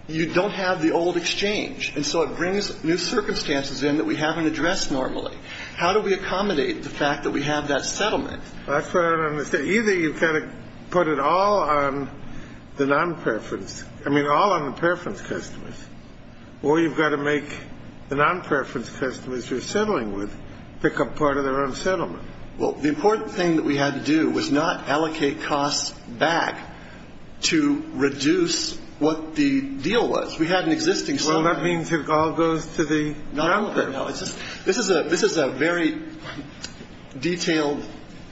you don't have the old exchange. And so it brings new circumstances in that we haven't addressed normally. How do we accommodate the fact that we have that settlement? That's what I don't understand. Either you've got to put it all on the non-preference, I mean all on the preference customers, or you've got to make the non-preference customers you're settling with pick up part of their own settlement. Well, the important thing that we had to do was not allocate costs back to reduce what the deal was. We had an existing settlement. This is a very detailed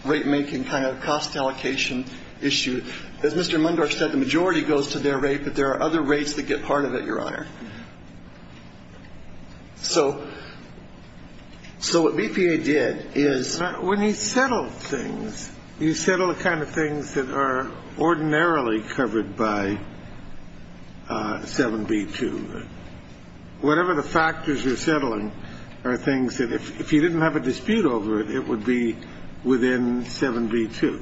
rate-making kind of cost allocation issue. As Mr. Lundorf said, the majority goes to their rate, but there are other rates that get part of it, Your Honor. So what BPA did is when you settle things, you settle the kind of things that are ordinarily covered by 7-B-2. Whatever the factors you're settling are things that if you didn't have a dispute over it, it would be within 7-B-2.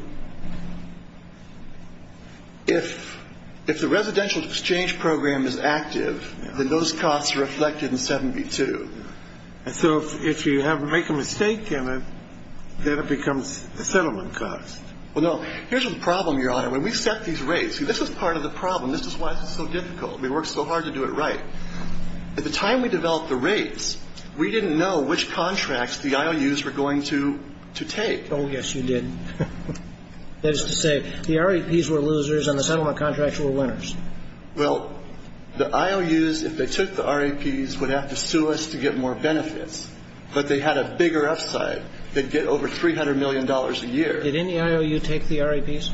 If the residential exchange program is active, then those costs are reflected in 7-B-2. And so if you make a mistake in it, then it becomes a settlement cost. Well, no. Here's the problem, Your Honor. When we've set these rates, this is part of the problem. This is why it's so difficult. We work so hard to do it right. At the time we developed the rates, we didn't know which contracts the IOUs were going to take. Oh, yes, you did. That is to say, the RAPs were losers and the settlement contracts were winners. Well, the IOUs, if they took the RAPs, would have to sue us to get more benefits. But they had a bigger upside. They'd get over $300 million a year. Did any IOU take the RAPs?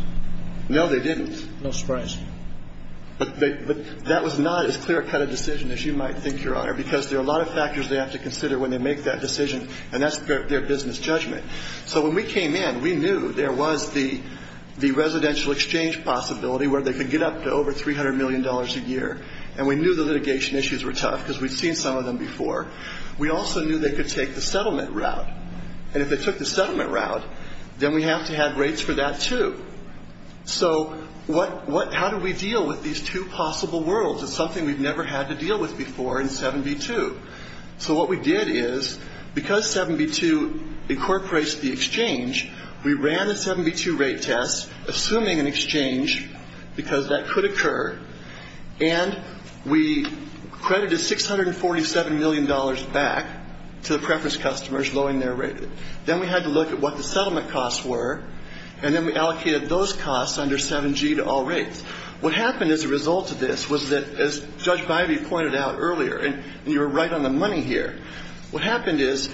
No, they didn't. No surprise. But that was not as clear-cut a decision as you might think, Your Honor, because there are a lot of factors they have to consider when they make that decision. And that's their business judgment. So when we came in, we knew there was the residential exchange possibility where they could get up to over $300 million a year. And we knew the litigation issues were tough because we'd seen some of them before. We also knew they could take the settlement route. And if they took the settlement route, then we have to have rates for that, too. So how do we deal with these two possible worlds? It's something we've never had to deal with before in 7b-2. So what we did is, because 7b-2 incorporates the exchange, we ran a 7b-2 rate test, assuming an exchange, because that could occur. And we credited $647 million back to the preference customers, low in their rate. Then we had to look at what the settlement costs were. And then we allocated those costs under 7g to all rates. What happened as a result of this was that, as Judge Bybee pointed out earlier, and you're right on the money here, what happened is,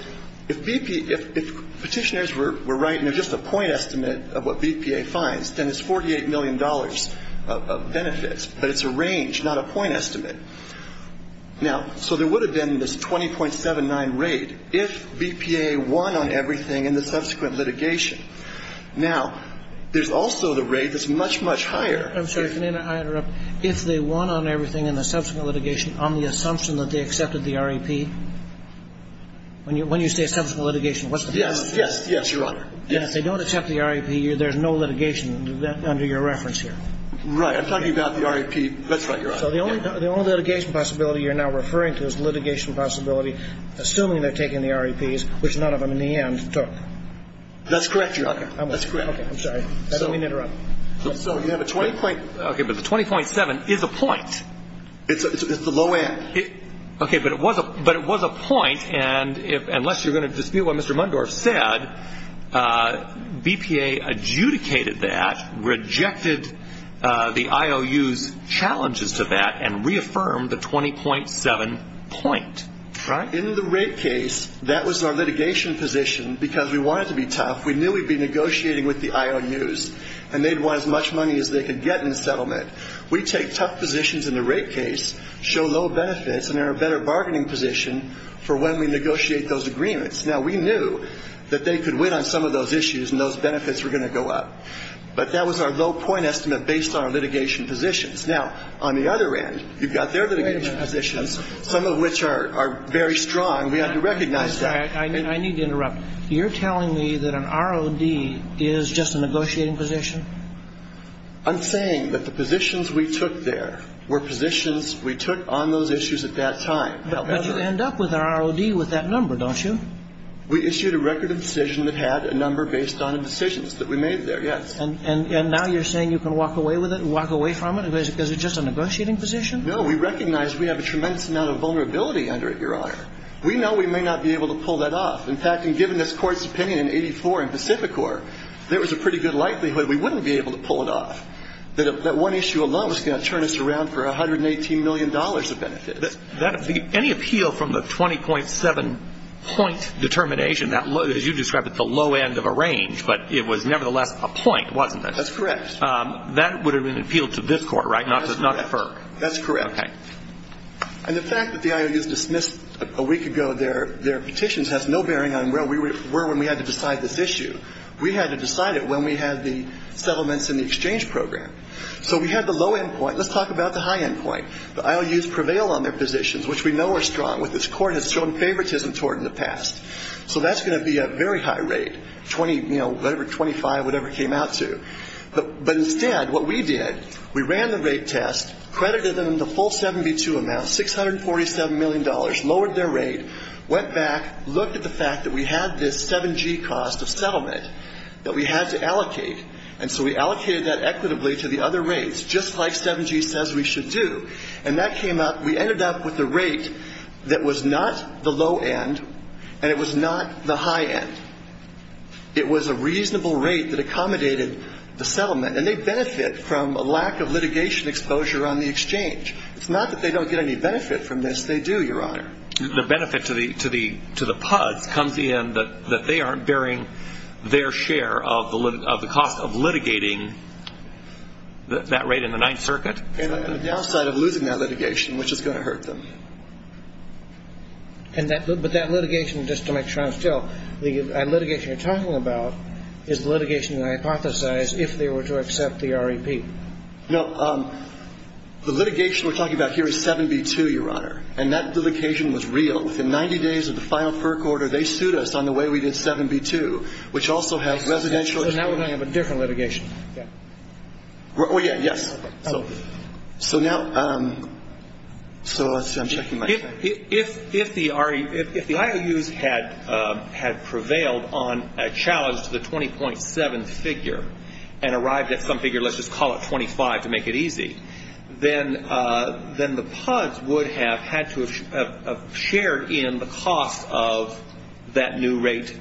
if petitioners were writing just a point estimate of what BPA finds, then it's $48 million of benefits, but it's a range, not a point estimate. So there would have been this 20.79 rate if BPA won on everything in the subsequent litigation. Now, there's also the rate that's much, much higher. I'm sorry, I interrupted. If they won on everything in the subsequent litigation on the assumption that they accepted the RAP? When you say subsequent litigation, what's the subsequent litigation? Yes, Your Honor. If they don't accept the RAP, there's no litigation under your reference here. Right. I'm talking about the RAP. That's right, Your Honor. So the only litigation possibility you're now referring to is litigation possibility, assuming they're taking the RAPs, which none of them, in the end, took. That's correct, Your Honor. That's correct. I'm sorry. I don't mean to interrupt. Okay, but the 20.7 is a point. It's the low end. Okay, but it was a point, and unless you're going to dispute what Mr. Mundorf said, BPA adjudicated that, rejected the IOU's challenges to that, and reaffirmed the 20.7 point. In the RAP case, that was our litigation position because we wanted to be tough. We knew we'd be negotiating with the IOU's, and they'd want as much money as they could get in the settlement. We take tough positions in the RAP case, show low benefits, and they're a better bargaining position for when we negotiate those agreements. Now, we knew that they could win on some of those issues, and those benefits were going to go up. But that was our low point estimate based on our litigation positions. Now, on the other end, you've got their litigation positions, some of which are very strong. We have to recognize that. I need to interrupt. You're telling me that an ROD is just a negotiating position? I'm saying that the positions we took there were positions we took on those issues at that time. But you end up with an ROD with that number, don't you? We issued a record of decisions that had a number based on the decisions that we made there, yes. And now you're saying you can walk away with it and walk away from it? Is it just a negotiating position? No, we recognize we have a tremendous amount of vulnerability under it, Your Honor. We know we may not be able to pull that off. In fact, in giving this Court's opinion in 84 in Pacific Court, there was a pretty good likelihood we wouldn't be able to pull it off. That one issue alone was going to turn us around for $118 million of benefit. Any appeal from the 20.7 point determination, as you described it, but it was nevertheless a point, wasn't it? That's correct. That would have been appealed to this Court, right? That's correct. And the fact that the IOUs dismissed a week ago their petitions has no bearing on where we were when we had to decide this issue. We had to decide it when we had the settlements in the exchange program. So we had the low end point. Let's talk about the high end point. The IOUs prevail on their positions, which we know are strong, which this Court has shown favoritism toward in the past. So that's going to be a very high rate, 25, whatever it came out to. But instead, what we did, we ran the rate test, credited them the full 72 amounts, $647 million, lowered their rate, went back, looked at the fact that we had this 7G cost of settlement that we had to allocate, and so we allocated that equitably to the other rates, just like 7G says we should do. And that came up, we ended up with a rate that was not the low end and it was not the high end. It was a reasonable rate that accommodated the settlement, and they benefit from a lack of litigation exposure on the exchange. It's not that they don't get any benefit from this, they do, Your Honor. The benefit to the PUD comes in that they aren't bearing their share of the cost of litigating that rate in the Ninth Circuit? And on the downside of losing that litigation, which is going to hurt them. But that litigation, just to make sure I'm still, that litigation you're talking about is the litigation you hypothesized if they were to accept the REP? No, the litigation we're talking about here is 7B2, Your Honor, and that litigation was real. Within 90 days of the final perk order, they sued us on the way we did 7B2, which also has residential exposure. And that was under a different litigation? Yes. If the IOUs had prevailed on a challenge to the 20.7 figure, and arrived at some figure, let's just call it 25 to make it easy, then the PUDs would have had to have shared in the cost of that new rate.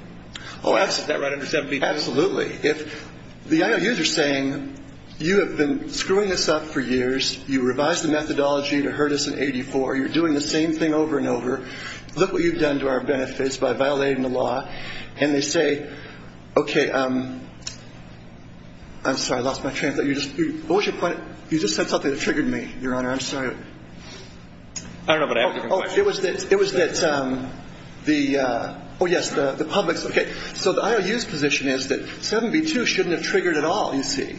Oh, absolutely. Absolutely. If the IOUs are saying, you have been screwing this up for years, you revised the methodology to hurt us in 84, you're doing the same thing over and over, look what you've done to our benefits by violating the law. And they say, okay, I'm sorry, I lost my train of thought. You just kind of thought that triggered me, Your Honor. I'm sorry. I don't know what I asked. It was that the, oh yes, the public, okay. So the IOU's position is that 7B2 shouldn't have triggered at all, you see.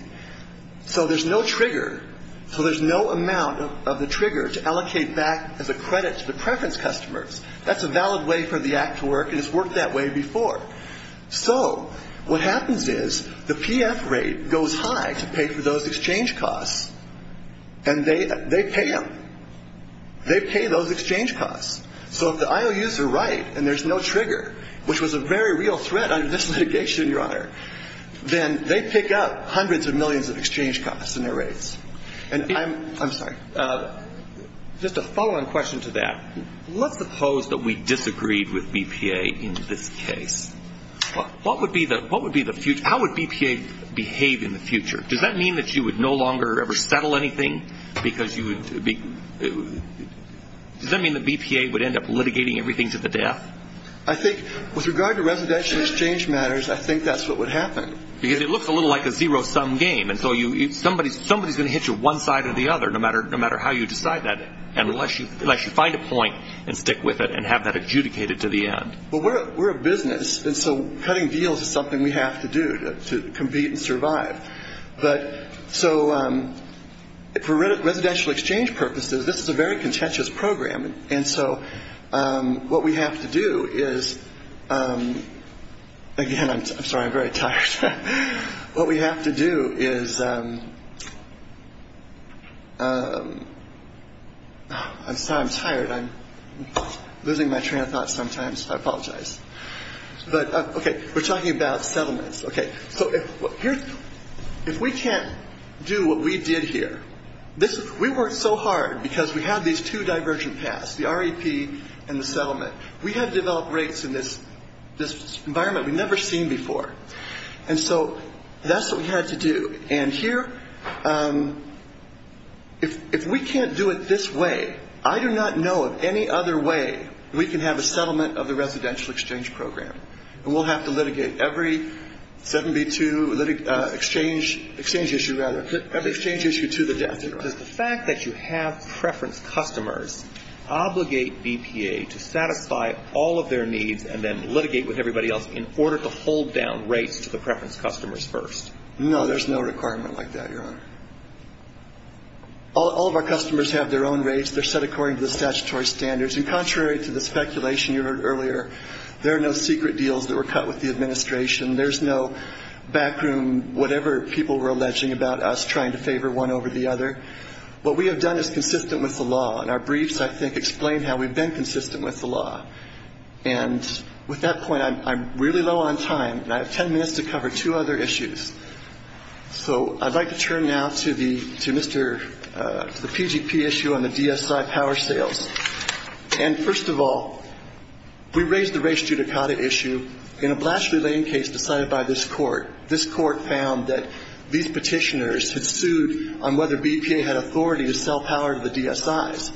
So there's no trigger. So there's no amount of the trigger to allocate back as a credit to the preference customers. That's a valid way for the act to work. It has worked that way before. So what happens is the PF rate goes high to pay for those exchange costs. And they pay them. They pay those exchange costs. So if the IOU's are right and there's no trigger, which was a very real threat under this litigation, Your Honor, then they pick up hundreds of millions of exchange costs in their rates. And I'm sorry, just a follow-on question to that. Let's suppose that we disagreed with BPA in this case. How would BPA behave in the future? Does that mean that you would no longer ever settle anything? Does that mean that BPA would end up litigating everything to the death? I think with regard to residential exchange matters, I think that's what would happen. Because it looks a little like a zero-sum game. And so somebody's going to hit you one side or the other, no matter how you decide that, unless you find a point and stick with it and have that adjudicated to the end. Well, we're a business, and so cutting deals is something we have to do to compete and survive. So for residential exchange purposes, this is a very contentious program. And so what we have to do is – again, I'm sorry, I'm very tired. What we have to do is – I'm sorry, I'm tired. I'm losing my train of thought sometimes. I apologize. Okay, we're talking about settlements. Okay, so if we can't do what we did here – we worked so hard because we have these two diversion paths, the REP and the settlement. We have developed rates in this environment we've never seen before. And so that's what we had to do. And here, if we can't do it this way, I do not know of any other way we can have a settlement of the residential exchange program. And we'll have to litigate every 72 exchange issue to the death. The fact that you have preference customers obligate BPA to satisfy all of their needs and then litigate with everybody else in order to hold down rates to the preference customers first. No, there's no requirement like that, Your Honor. All of our customers have their own rates. They're set according to the statutory standards. And contrary to the speculation you heard earlier, there are no secret deals that were cut with the administration. There's no backroom whatever people were alleging about us trying to favor one over the other. What we have done is consistent with the law. And our briefs, I think, explain how we've been consistent with the law. And with that point, I'm really low on time. I have ten minutes to cover two other issues. So I'd like to turn now to the PGP issue on the DSI power sales. And first of all, we raised the race judicata issue in a blasphemy case decided by this court. This court found that these petitioners had sued on whether BPA had authority to sell power to the DSIs.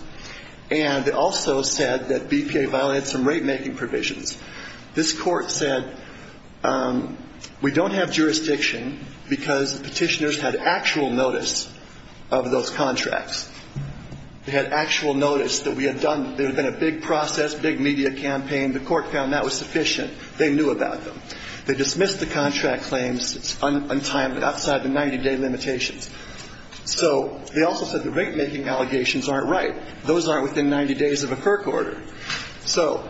And it also said that BPA violated some rate-making provisions. This court said, we don't have jurisdiction because the petitioners had actual notice of those contracts. They had actual notice that we had done, there had been a big process, big media campaign. The court found that was sufficient. They knew about them. They dismissed the contract claims untimely outside the 90-day limitation. So they also said the rate-making allegations aren't right. Those aren't within 90 days of a FERC order. So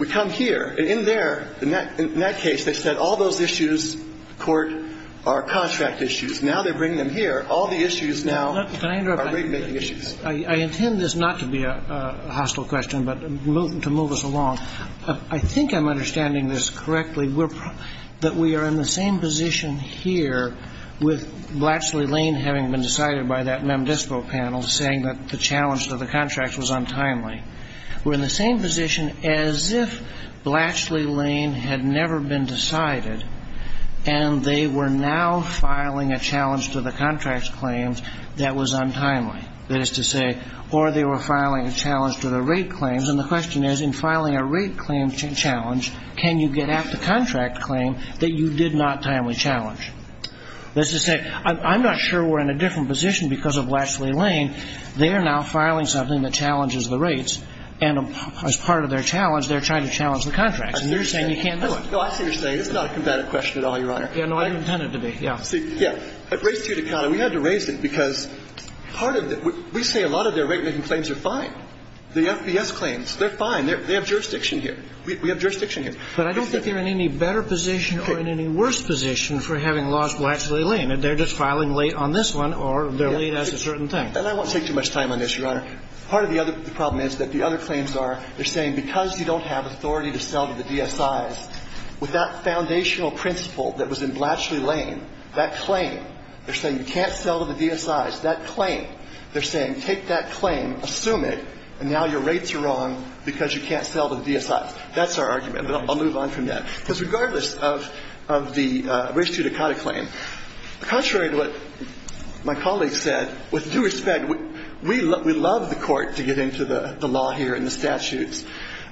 we come here. And in there, in that case, they said all those issues, court, are contract issues. Now they're bringing them here. All the issues now are rate-making issues. I intend this not to be a hostile question but to move us along. I think I'm understanding this correctly, that we are in the same position here with Blacksley Lane having been decided by that MemDisco panel, saying that the challenge to the contract was untimely. We're in the same position as if Blacksley Lane had never been decided, and they were now filing a challenge to the contract claims that was untimely. That is to say, or they were filing a challenge to the rate claims. And the question is, in filing a rate claim challenge, can you get at the contract claim that you did not timely challenge? I'm not sure we're in a different position because of Blacksley Lane. They are now filing something that challenges the rates. And as part of their challenge, they're trying to challenge the contracts. And you're saying you can't do it. No, I see what you're saying. It's not a combative question at all, Your Honor. Yeah, no, I didn't intend it to be. Yeah. Yeah. But we had to raise it because we say a lot of their rate-making claims are fine. The FBS claims, they're fine. They have jurisdiction here. We have jurisdiction here. But I don't think they're in any better position or in any worse position for having lost Blacksley Lane. They're just filing late on this one, or they're late at a certain time. And I won't take too much time on this, Your Honor. Part of the problem is that the other claims are they're saying because you don't have authority to sell to the DSIs, with that foundational principle that was in Blacksley Lane, that claim, they're saying you can't sell to the DSIs. That claim, they're saying take that claim, assume it, and now your rates are wrong because you can't sell to the DSIs. That's our argument. I'll move on from that. Because regardless of the race-judicata claim, contrary to what my colleague said, with due respect, we love the court to get into the law here and the statutes.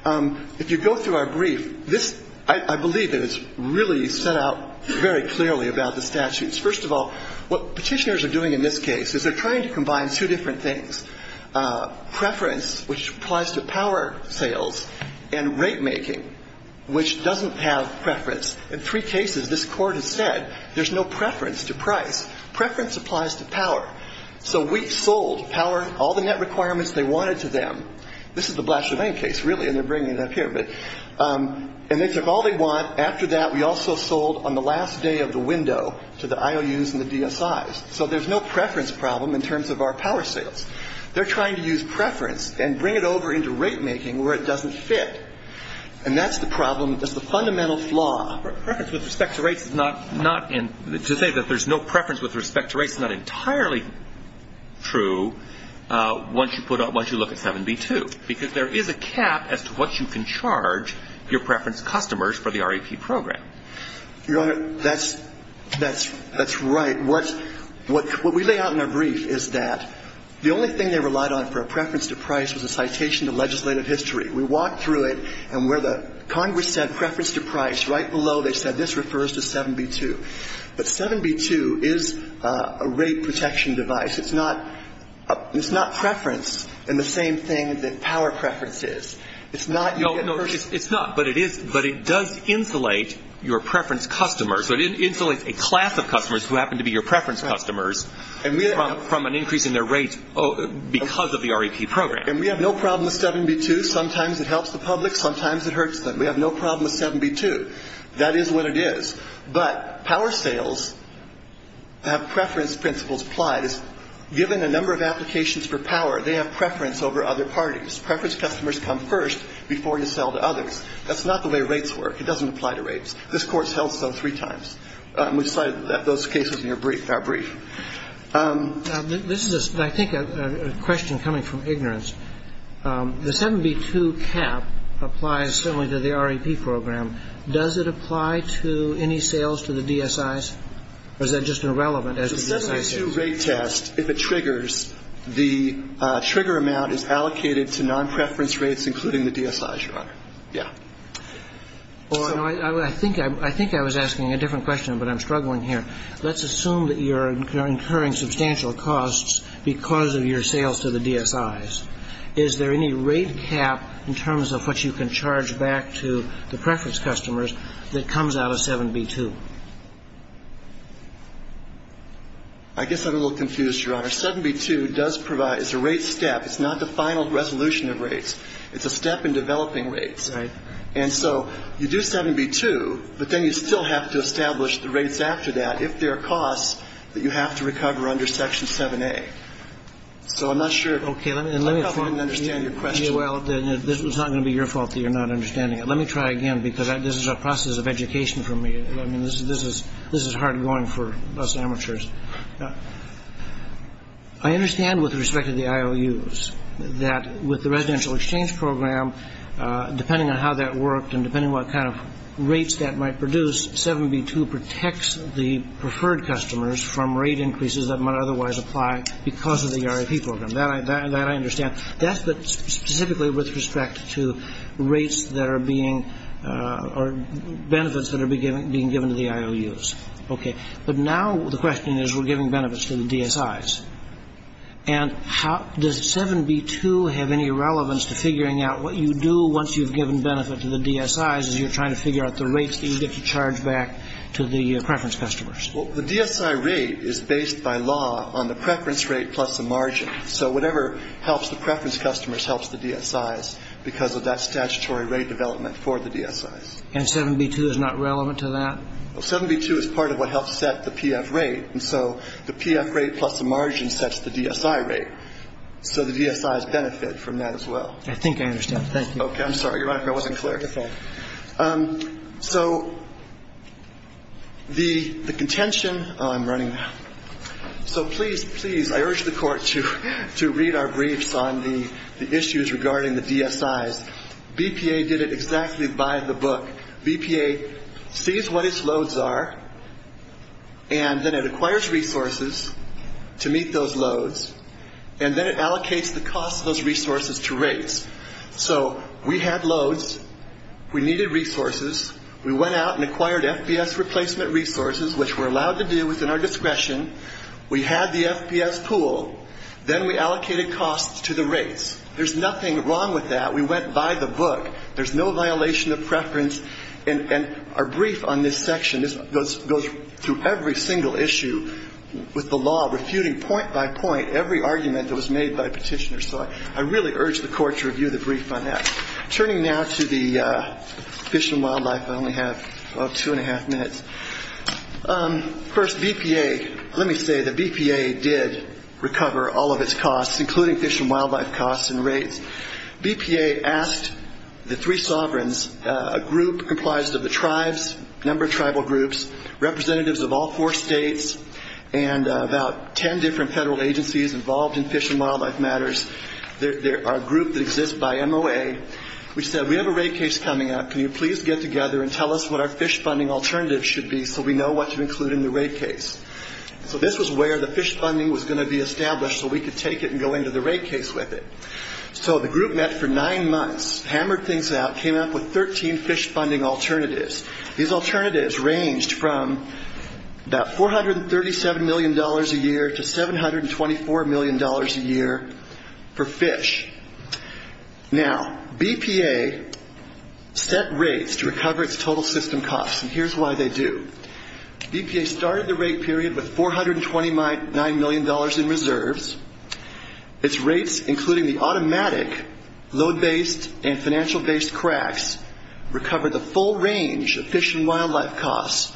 If you go through our brief, I believe it is really set out very clearly about the statutes. First of all, what petitioners are doing in this case is they're trying to combine two different things, preference, which applies to power sales, and rate-making, which doesn't have preference. In three cases, this court has said there's no preference to price. Preference applies to power. So we sold power, all the net requirements they wanted to them. This is the Blacksley Lane case, really, and they're bringing it up here. And they took all they want. After that, we also sold on the last day of the window to the IOUs and the DSIs. So there's no preference problem in terms of our power sales. They're trying to use preference and bring it over into rate-making where it doesn't fit. And that's the problem. That's the fundamental flaw. To say that there's no preference with respect to rate is not entirely true once you look at 7b-2 because there is a cap as to what you can charge your preference customers for the REP program. Your Honor, that's right. What we lay out in the brief is that the only thing they relied on for a preference to price was a citation to legislative history. We walked through it, and where the Congress said preference to price, right below, they said this refers to 7b-2. But 7b-2 is a rate protection device. It's not preference in the same thing that power preference is. It's not your preference. No, it's not, but it does insulate your preference customers. It insulates a class of customers who happen to be your preference customers from an increase in their rates because of the REP program. And we have no problem with 7b-2. Sometimes it helps the public. Sometimes it hurts them. We have no problem with 7b-2. That is what it is. But power sales have preference principles applied. Given the number of applications for power, they have preference over other parties. Preference customers come first before you sell to others. That's not the way rates work. It doesn't apply to rates. This course helps them three times. We cite those cases in our brief. This is, I think, a question coming from ignorance. The 7b-2 cap applies similarly to the REP program. Does it apply to any sales to the DSIs, or is that just irrelevant? The 7b-2 rate test, if it triggers, the trigger amount is allocated to non-preference rates, including the DSIs, Your Honor. Yeah. I think I was asking a different question, but I'm struggling here. Let's assume that you're incurring substantial costs because of your sales to the DSIs. Is there any rate cap in terms of what you can charge back to the preference customers that comes out of 7b-2? I guess I'm a little confused, Your Honor. 7b-2 is a rate step. It's not the final resolution of rates. It's a step in developing rates. And so you do 7b-2, but then you still have to establish the rates after that, if there are costs that you have to recover under Section 7a. So I'm not sure if I fully understand your question. Well, it's not going to be your fault that you're not understanding it. Let me try again, because this is a process of education for me. This is hard going for us amateurs. I understand with respect to the IOUs that with the residential exchange program, depending on how that worked and depending on what kind of rates that might produce, 7b-2 protects the preferred customers from rate increases that might otherwise apply because of the EIRP program. That I understand. That's specifically with respect to rates that are being or benefits that are being given to the IOUs. Okay. But now the question is we're giving benefits to the DSIs. And does 7b-2 have any relevance to figuring out what you do once you've given benefit to the DSIs as you're trying to figure out the rates that you get to charge back to the preference customers? Well, the DSI rate is based by law on the preference rate plus the margin. So whatever helps the preference customers helps the DSIs because of that statutory rate development for the DSIs. And 7b-2 is not relevant to that? Well, 7b-2 is part of what helps set the PF rate. And so the PF rate plus the margin sets the DSI rate. So the DSIs benefit from that as well. I think I understand. Thank you. Okay. I'm sorry. You're right. I wasn't clear. Okay. So the contention, oh, I'm running. So please, please, I urge the Court to read our briefs on the issues regarding the DSIs. BPA did it exactly by the book. BPA sees what its loads are and then it acquires resources to meet those loads and then it allocates the cost of those resources to rates. So we had loads. We needed resources. We went out and acquired FBS replacement resources, which we're allowed to do within our discretion. We had the FBS pool. Then we allocated costs to the rates. There's nothing wrong with that. We went by the book. There's no violation of preference. And our brief on this section goes through every single issue with the law, refuting point by point every argument that was made by petitioners. So I really urge the Court to review the brief on that. Turning now to the fish and wildlife. I only have about two and a half minutes. First, BPA. Let me say that BPA did recover all of its costs, including fish and wildlife costs and rates. BPA asked the three sovereigns, a group comprised of the tribes, a number of tribal groups, representatives of all four states, and about ten different federal agencies involved in fish and wildlife matters, a group that exists by MOA, which said, We have a rate case coming up. Can you please get together and tell us what our fish funding alternative should be so we know what to include in the rate case? So this was where the fish funding was going to be established so we could take it and go into the rate case with it. So the group met for nine months, hammered things out, came up with 13 fish funding alternatives. These alternatives ranged from about $437 million a year to $724 million a year for fish. Now, BPA set rates to recover its total system costs, and here's why they do. BPA started the rate period with $429 million in reserves. Its rates, including the automatic load-based and financial-based cracks, recovered the full range of fish and wildlife costs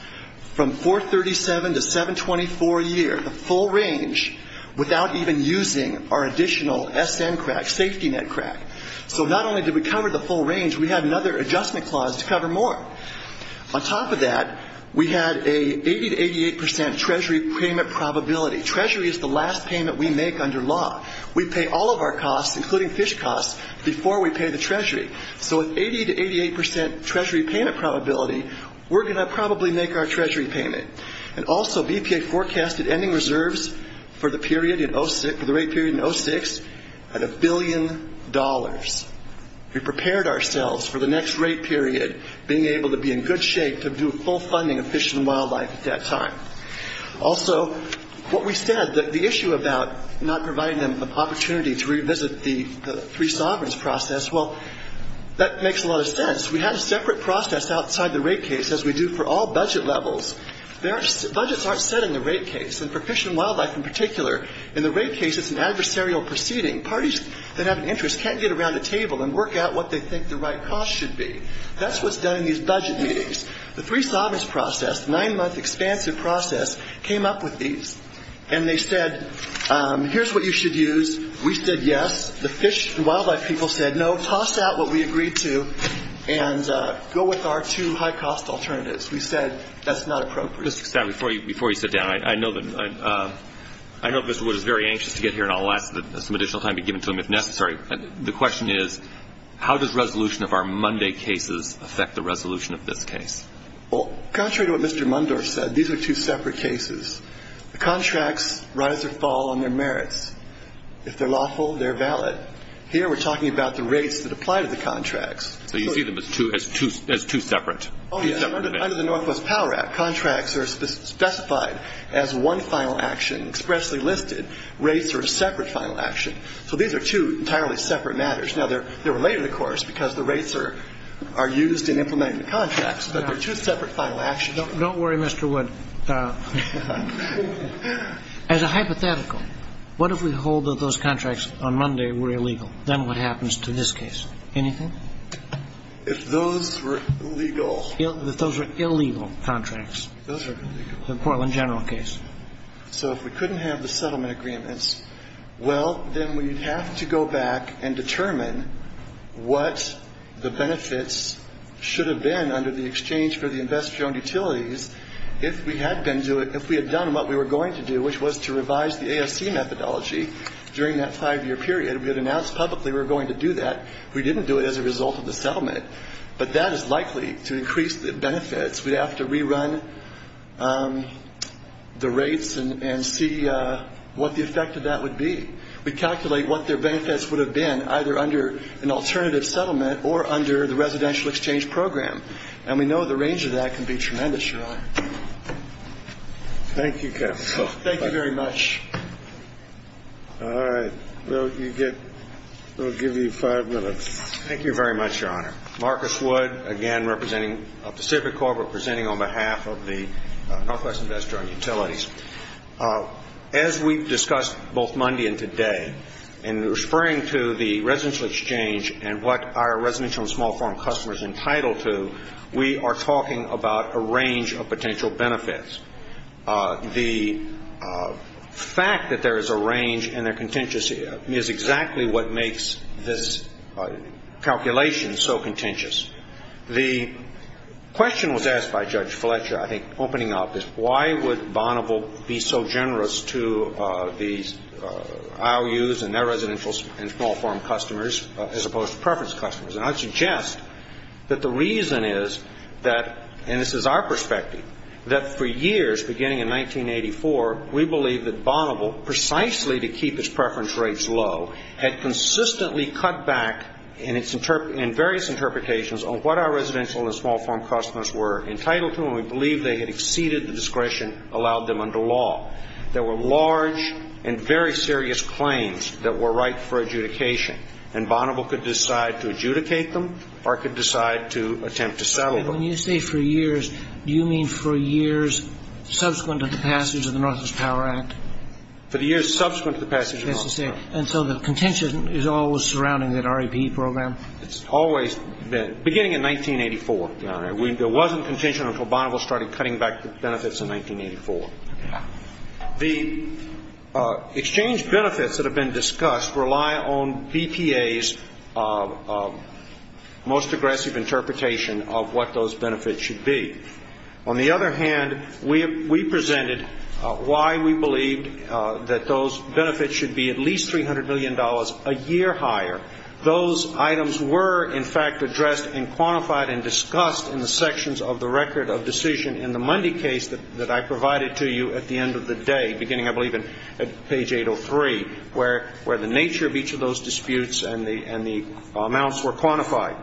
from $437 to $724 a year, the full range, without even using our additional SM crack, safety net crack. So not only did we cover the full range, we had another adjustment clause to cover more. On top of that, we had an 80 to 88 percent Treasury payment probability. And Treasury is the last payment we make under law. We pay all of our costs, including fish costs, before we pay the Treasury. So with 80 to 88 percent Treasury payment probability, we're going to probably make our Treasury payment. And also, BPA forecasted ending reserves for the rate period in 2006 at $1 billion. We prepared ourselves for the next rate period, being able to be in good shape to do full funding of fish and wildlife at that time. Also, what we said, the issue about not providing them an opportunity to revisit the free sovereigns process, well, that makes a lot of sense. We had a separate process outside the rate case, as we do for all budget levels. Budgets aren't set in the rate case, and for fish and wildlife in particular. In the rate case, it's an adversarial proceeding. Parties that have an interest can't get around a table and work out what they think the right cost should be. That's what's done in these budget meetings. The free sovereigns process, nine-month expansive process, came up with these. And they said, here's what you should use. We said, yes. The fish and wildlife people said, no, toss out what we agreed to and go with our two high-cost alternatives. We said, that's not appropriate. Before you sit down, I know that Mr. Wood is very anxious to get here, and I'll let some additional time be given to him if necessary. I'm sorry. The question is, how does resolution of our Monday cases affect the resolution of this case? Well, contrary to what Mr. Mundorf said, these are two separate cases. Contracts rise or fall on their merits. If they're lawful, they're valid. Here we're talking about the rates that apply to the contracts. So you treat them as two separate? Under the Northwest Power Act, contracts are specified as one final action, expressly listed. Rates are a separate final action. So these are two entirely separate matters. Now, they're related, of course, because the rates are used in implementing the contracts, but they're two separate final actions. Don't worry, Mr. Wood. As a hypothetical, what if we hold that those contracts on Monday were illegal? Then what happens to this case? Anything? If those were illegal. If those were illegal contracts. Those are illegal. The Portland General case. So if we couldn't have the settlement agreements, well, then we have to go back and determine what the benefits should have been under the exchange for the investor-owned utilities. If we had been doing it, if we had done what we were going to do, which was to revise the AFC methodology during that five-year period, we had announced publicly we were going to do that. We didn't do it as a result of the settlement, but that is likely to increase the benefits. We have to rerun the rates and see what the effect of that would be. We calculate what their benefits would have been either under an alternative settlement or under the residential exchange program. And we know the range of that can be tremendous, Your Honor. Thank you, Kevin. Thank you very much. All right. We'll give you five minutes. Thank you very much, Your Honor. Marcus Wood, again, representing Pacific Corp, representing on behalf of the Northwest Investor-Owned Utilities. As we've discussed both Monday and today in referring to the residential exchange and what our residential and small firm customers are entitled to, we are talking about a range of potential benefits. The fact that there is a range and a contingency is exactly what makes this calculation so contentious. The question was asked by Judge Fletcher, I think, opening up, is why would Bonneville be so generous to these IOUs and their residential and small firm customers as opposed to preference customers? And I suggest that the reason is that, and this is our perspective, that for years, beginning in 1984, we believed that Bonneville, precisely to keep its preference rates low, had consistently cut back in various interpretations on what our residential and small firm customers were entitled to, and we believed they had exceeded the discretion allowed them under law. There were large and very serious claims that were ripe for adjudication, and Bonneville could decide to adjudicate them or could decide to attempt to settle them. When you say for years, do you mean for years subsequent to the passage of the Northwest Power Act? For the years subsequent to the passage of the Northwest Power Act. And so the contention is always surrounding that REP program? It's always been, beginning in 1984. There wasn't contention until Bonneville started cutting back the benefits in 1984. The exchange benefits that have been discussed rely on BPA's most aggressive interpretation of what those benefits should be. On the other hand, we presented why we believed that those benefits should be at least $300 billion a year higher. Those items were, in fact, addressed and quantified and discussed in the sections of the Record of Decision in the Mundy case that I provided to you at the end of the day, beginning, I believe, at page 803, where the nature of each of those disputes and the amounts were quantified.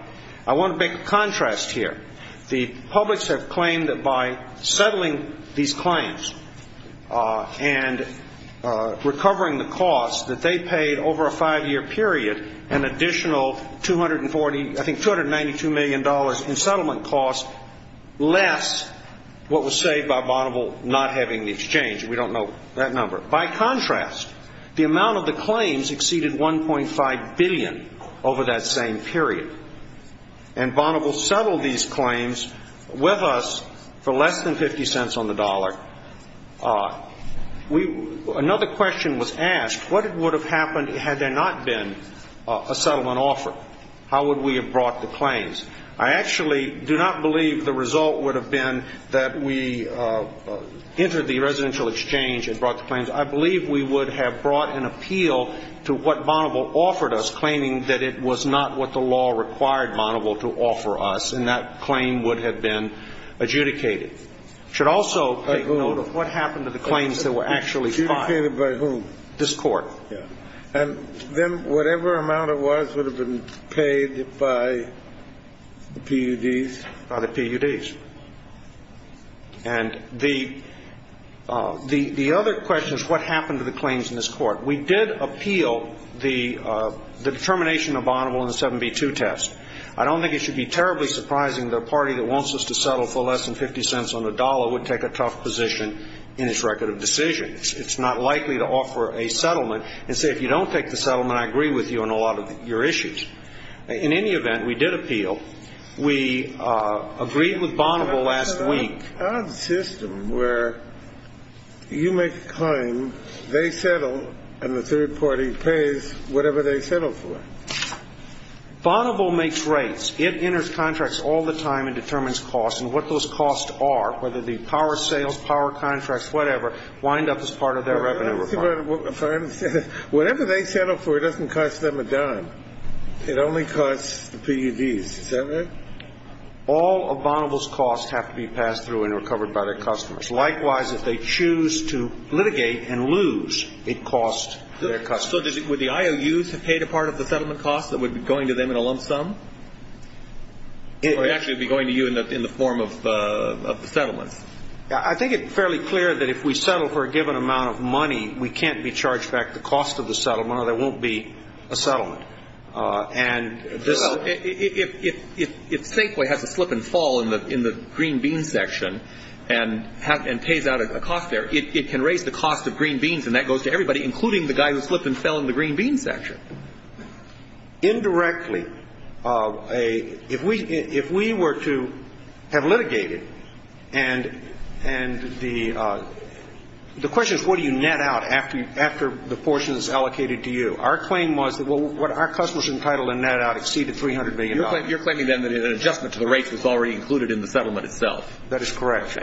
I want to make a contrast here. The publics have claimed that by settling these claims and recovering the costs, that they paid over a five-year period an additional $292 million in settlement costs, less what was saved by Bonneville not having the exchange. We don't know that number. By contrast, the amount of the claims exceeded $1.5 billion over that same period. Bonneville settled these claims with us for less than 50 cents on the dollar. Another question was asked, what would have happened had there not been a settlement offer? How would we have brought the claims? I actually do not believe the result would have been that we entered the residential exchange and brought the claims. I believe we would have brought an appeal to what Bonneville offered us, claiming that it was not what the law required Bonneville to offer us, and that claim would have been adjudicated. It should also take note of what happened to the claims that were actually filed. Adjudicated by whom? This court. Then whatever amount it was would have been paid by the PUDs? By the PUDs. The other question is what happened to the claims in this court. We did appeal the determination of Bonneville in the 7B2 test. I don't think it should be terribly surprising that a party that wants us to settle for less than 50 cents on the dollar would take a tough position in its record of decisions. It's not likely to offer a settlement and say, if you don't take the settlement, I agree with you on a lot of your issues. In any event, we did appeal. We agreed with Bonneville last week. There's a system where you make a claim, they settle, and the third party pays whatever they settle for. Bonneville makes rates. It enters contracts all the time and determines costs, and what those costs are, whether the power sales, power contracts, whatever, wind up as part of their revenue report. Whatever they settle for doesn't cost them a dime. It only costs the PUDs, doesn't it? All of Bonneville's costs have to be passed through and recovered by their customers. Likewise, if they choose to litigate and lose, it costs their customers. So would the IOUs have paid a part of the settlement cost that would be going to them in a lump sum? It would actually be going to you in the form of the settlement. I think it's fairly clear that if we settle for a given amount of money, we can't be charged back the cost of the settlement or there won't be a settlement. If Safeway has to flip and fall in the green bean section and pays out a cost there, it can raise the cost of green beans, and that goes to everybody, including the guy who flipped and fell in the green bean section. Indirectly, if we were to have litigated and the question is, what do you net out after the portion is allocated to you? Our claim was that what our customers entitled to net out exceeded $300 million. You're saying then that an adjustment to the rate was already included in the settlement itself. That is correct.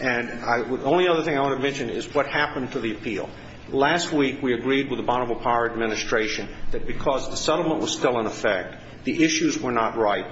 And the only other thing I want to mention is what happened to the appeal. Last week, we agreed with the Bonneville Power Administration that because the settlement was still in effect, the issues were not right.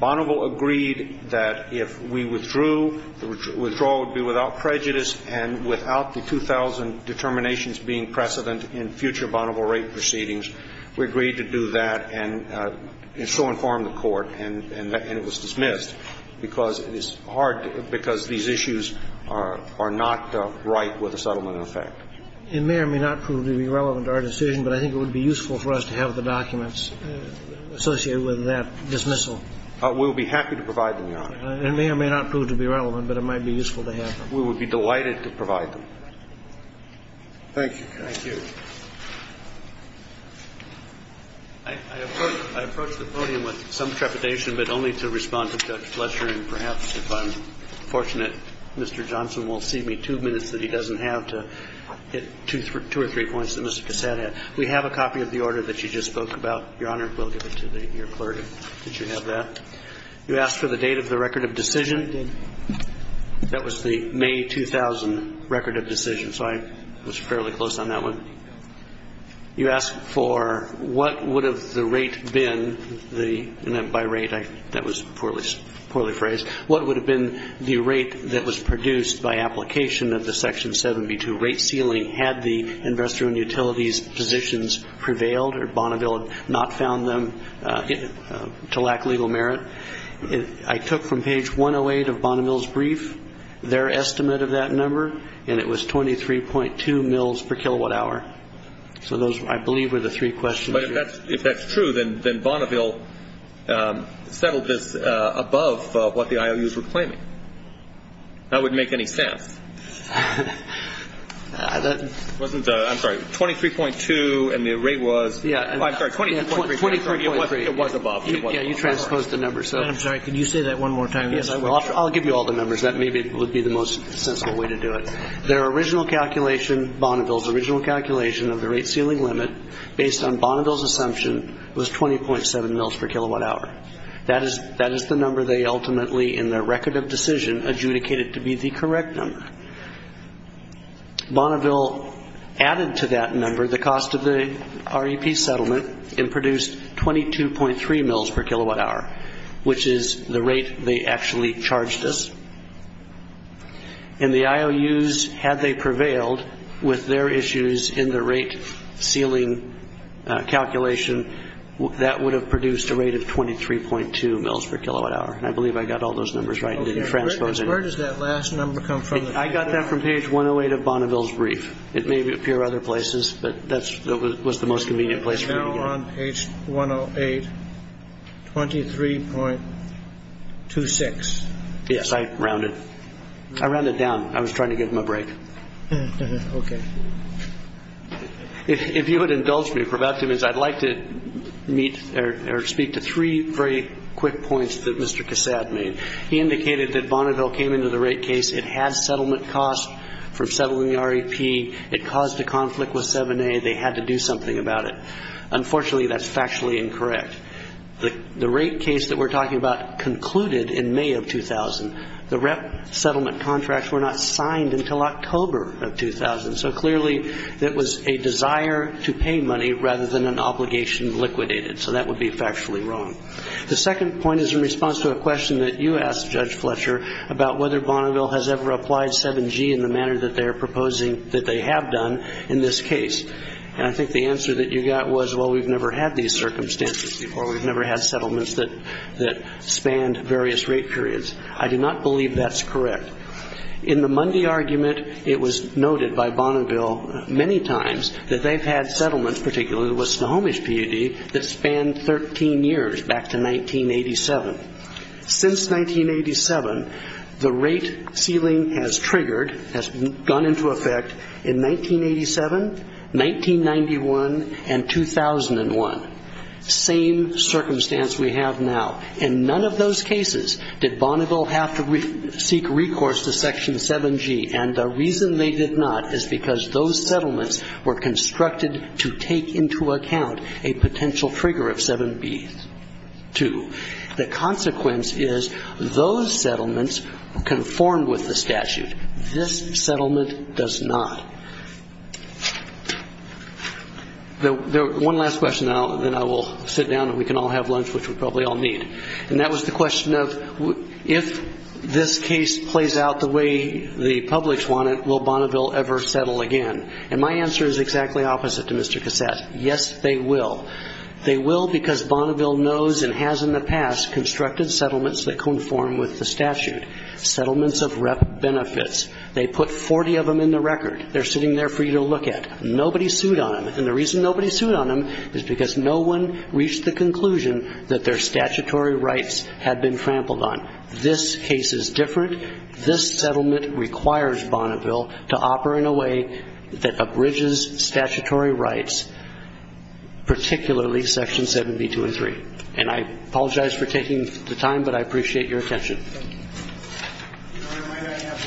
Bonneville agreed that if we withdrew, the withdrawal would be without prejudice and without the 2000 determinations being precedent in future Bonneville rate proceedings. We agreed to do that and still inform the court, and it was dismissed because these issues are not right with the settlement in effect. It may or may not prove to be relevant to our decision, but I think it would be useful for us to have the documents associated with that dismissal. We'll be happy to provide them now. It may or may not prove to be relevant, but it might be useful to have. We would be delighted to provide them. Thank you. Thank you. I approach the podium with some trepidation, but only to respond to Judge Fletcher, and perhaps if I'm fortunate, Mr. Johnson will see me two minutes that he doesn't have to two or three points that Mr. Cassatt had. We have a copy of the order that you just spoke about, Your Honor. We'll give it to your clerk if you have that. You asked for the date of the record of decision. That was the May 2000 record of decision, so I was fairly close on that one. You asked for what would have the rate been, and by rate that was poorly phrased, what would have been the rate that was produced by application of the Section 72 rate ceiling had the investor and utilities positions prevailed or Bonneville had not found them to lack legal merit. I took from page 108 of Bonneville's brief their estimate of that number, and it was 23.2 mils per kilowatt hour. So those, I believe, are the three questions. But if that's true, then Bonneville settled this above what the IOUs were claiming. That would make any sense. Wasn't the, I'm sorry, 23.2 and the rate was, oh, I'm sorry, 23.3. It was above. Yeah, you transposed the numbers. I'm sorry. Can you say that one more time? Yes, I will. I'll give you all the numbers. That maybe would be the most sensible way to do it. Their original calculation, Bonneville's original calculation of the rate ceiling limit based on Bonneville's assumption was 20.7 mils per kilowatt hour. That is the number they ultimately in their record of decision adjudicated to be the correct number. Bonneville added to that number the cost of the REP settlement and produced 22.3 mils per kilowatt hour, which is the rate they actually charged us. And the IOUs, had they prevailed with their issues in the rate ceiling calculation, that would have produced a rate of 23.2 mils per kilowatt hour. I believe I got all those numbers right and didn't transpose anything. Where does that last number come from? I got that from page 108 of Bonneville's brief. It may appear other places, but that was the most convenient place for me to look. Page 108, 23.26. Yes, I rounded it. I rounded it down. I was trying to give him a break. Okay. If you would indulge me, Professor, I'd like to speak to three very quick points that Mr. Cassatt made. He indicated that Bonneville came into the rate case. It had settlement costs for settling the REP. It caused a conflict with 7A. They had to do something about it. Unfortunately, that's factually incorrect. The rate case that we're talking about concluded in May of 2000. The REP settlement contracts were not signed until October of 2000, so clearly it was a desire to pay money rather than an obligation liquidated, so that would be factually wrong. The second point is in response to a question that you asked, Judge Fletcher, about whether Bonneville has ever applied 7G in the manner that they are proposing that they have done in this case. I think the answer that you got was, well, we've never had these circumstances before. We've never had settlements that spanned various rate periods. I do not believe that's correct. In the Mundy argument, it was noted by Bonneville many times that they've had settlements, particularly with Snohomish PUD, that spanned 13 years back to 1987. Since 1987, the rate ceiling has triggered, has gone into effect in 1987, 1991, and 2001. Same circumstance we have now. In none of those cases did Bonneville have to seek recourse to Section 7G, and the reason they did not is because those settlements were constructed to take into account a potential trigger of 7B. The consequence is those settlements conform with the statute. This settlement does not. One last question, then I will sit down and we can all have lunch, which we probably all need. That was the question of, if this case plays out the way the publics want it, will Bonneville ever settle again? My answer is exactly opposite to Mr. Cassatt's. Yes, they will. They will because Bonneville knows and has in the past constructed settlements that conform with the statute, settlements of benefits. They put 40 of them in the record. They're sitting there for you to look at. Nobody sued on them, and the reason nobody sued on them is because no one reached the conclusion that their statutory rights had been trampled on. This case is different. This settlement requires Bonneville to operate in a way that abridges statutory rights, particularly Section 72 and 3. And I apologize for taking the time, but I appreciate your attention. I have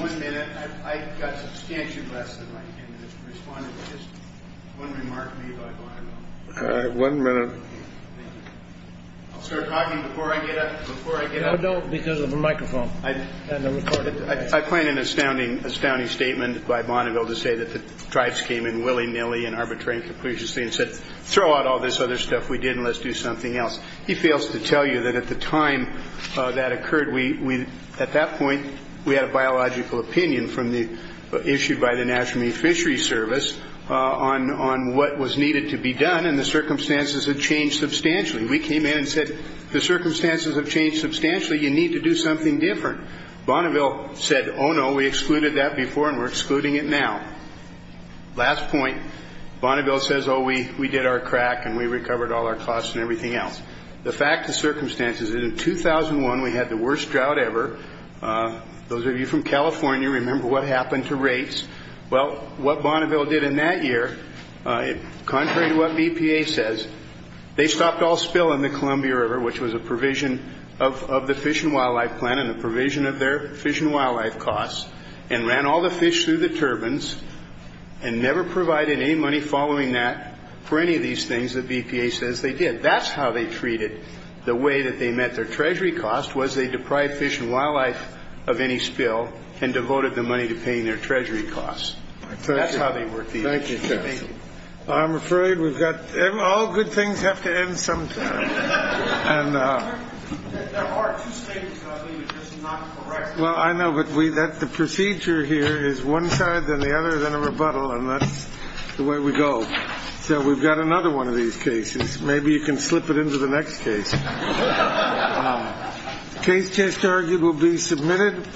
one minute. I've got substantial questions. I'm going to respond to just one remark from you about Bonneville. All right. One minute. I'll start talking before I get up. No, don't, because of the microphone. I plan an astounding statement by Bonneville to say that the tribes came in willy-nilly and arbitrarily and said, throw out all this other stuff we did and let's do something else. He fails to tell you that at the time that occurred, at that point, we had a biological opinion issued by the National Fisheries Service on what was needed to be done, and the circumstances had changed substantially. We came in and said, the circumstances have changed substantially. You need to do something different. Bonneville said, oh, no, we excluded that before, and we're excluding it now. Last point. Bonneville says, oh, we did our crack, and we recovered all our costs and everything else. The fact of the circumstance is, in 2001, we had the worst drought ever. Those of you from California remember what happened to rates. Well, what Bonneville did in that year, contrary to what BPA says, they stopped all spill in the Columbia River, which was a provision of the Fish and Wildlife Plan and a provision of their fish and wildlife costs, and ran all the fish through the turbines and never provided any money following that for any of these things that BPA says they did. That's how they treated the way that they met their treasury costs was they deprived fish and wildlife of any spill and devoted the money to paying their treasury costs. That's how they were treated. Thank you. I'm afraid we've got all good things have to end sometime. Well, I know that the procedure here is one side, then the other, then a rebuttal. And that's the way we go. So we've got another one of these cases. Maybe you can slip it into the next case. Case history will be submitted.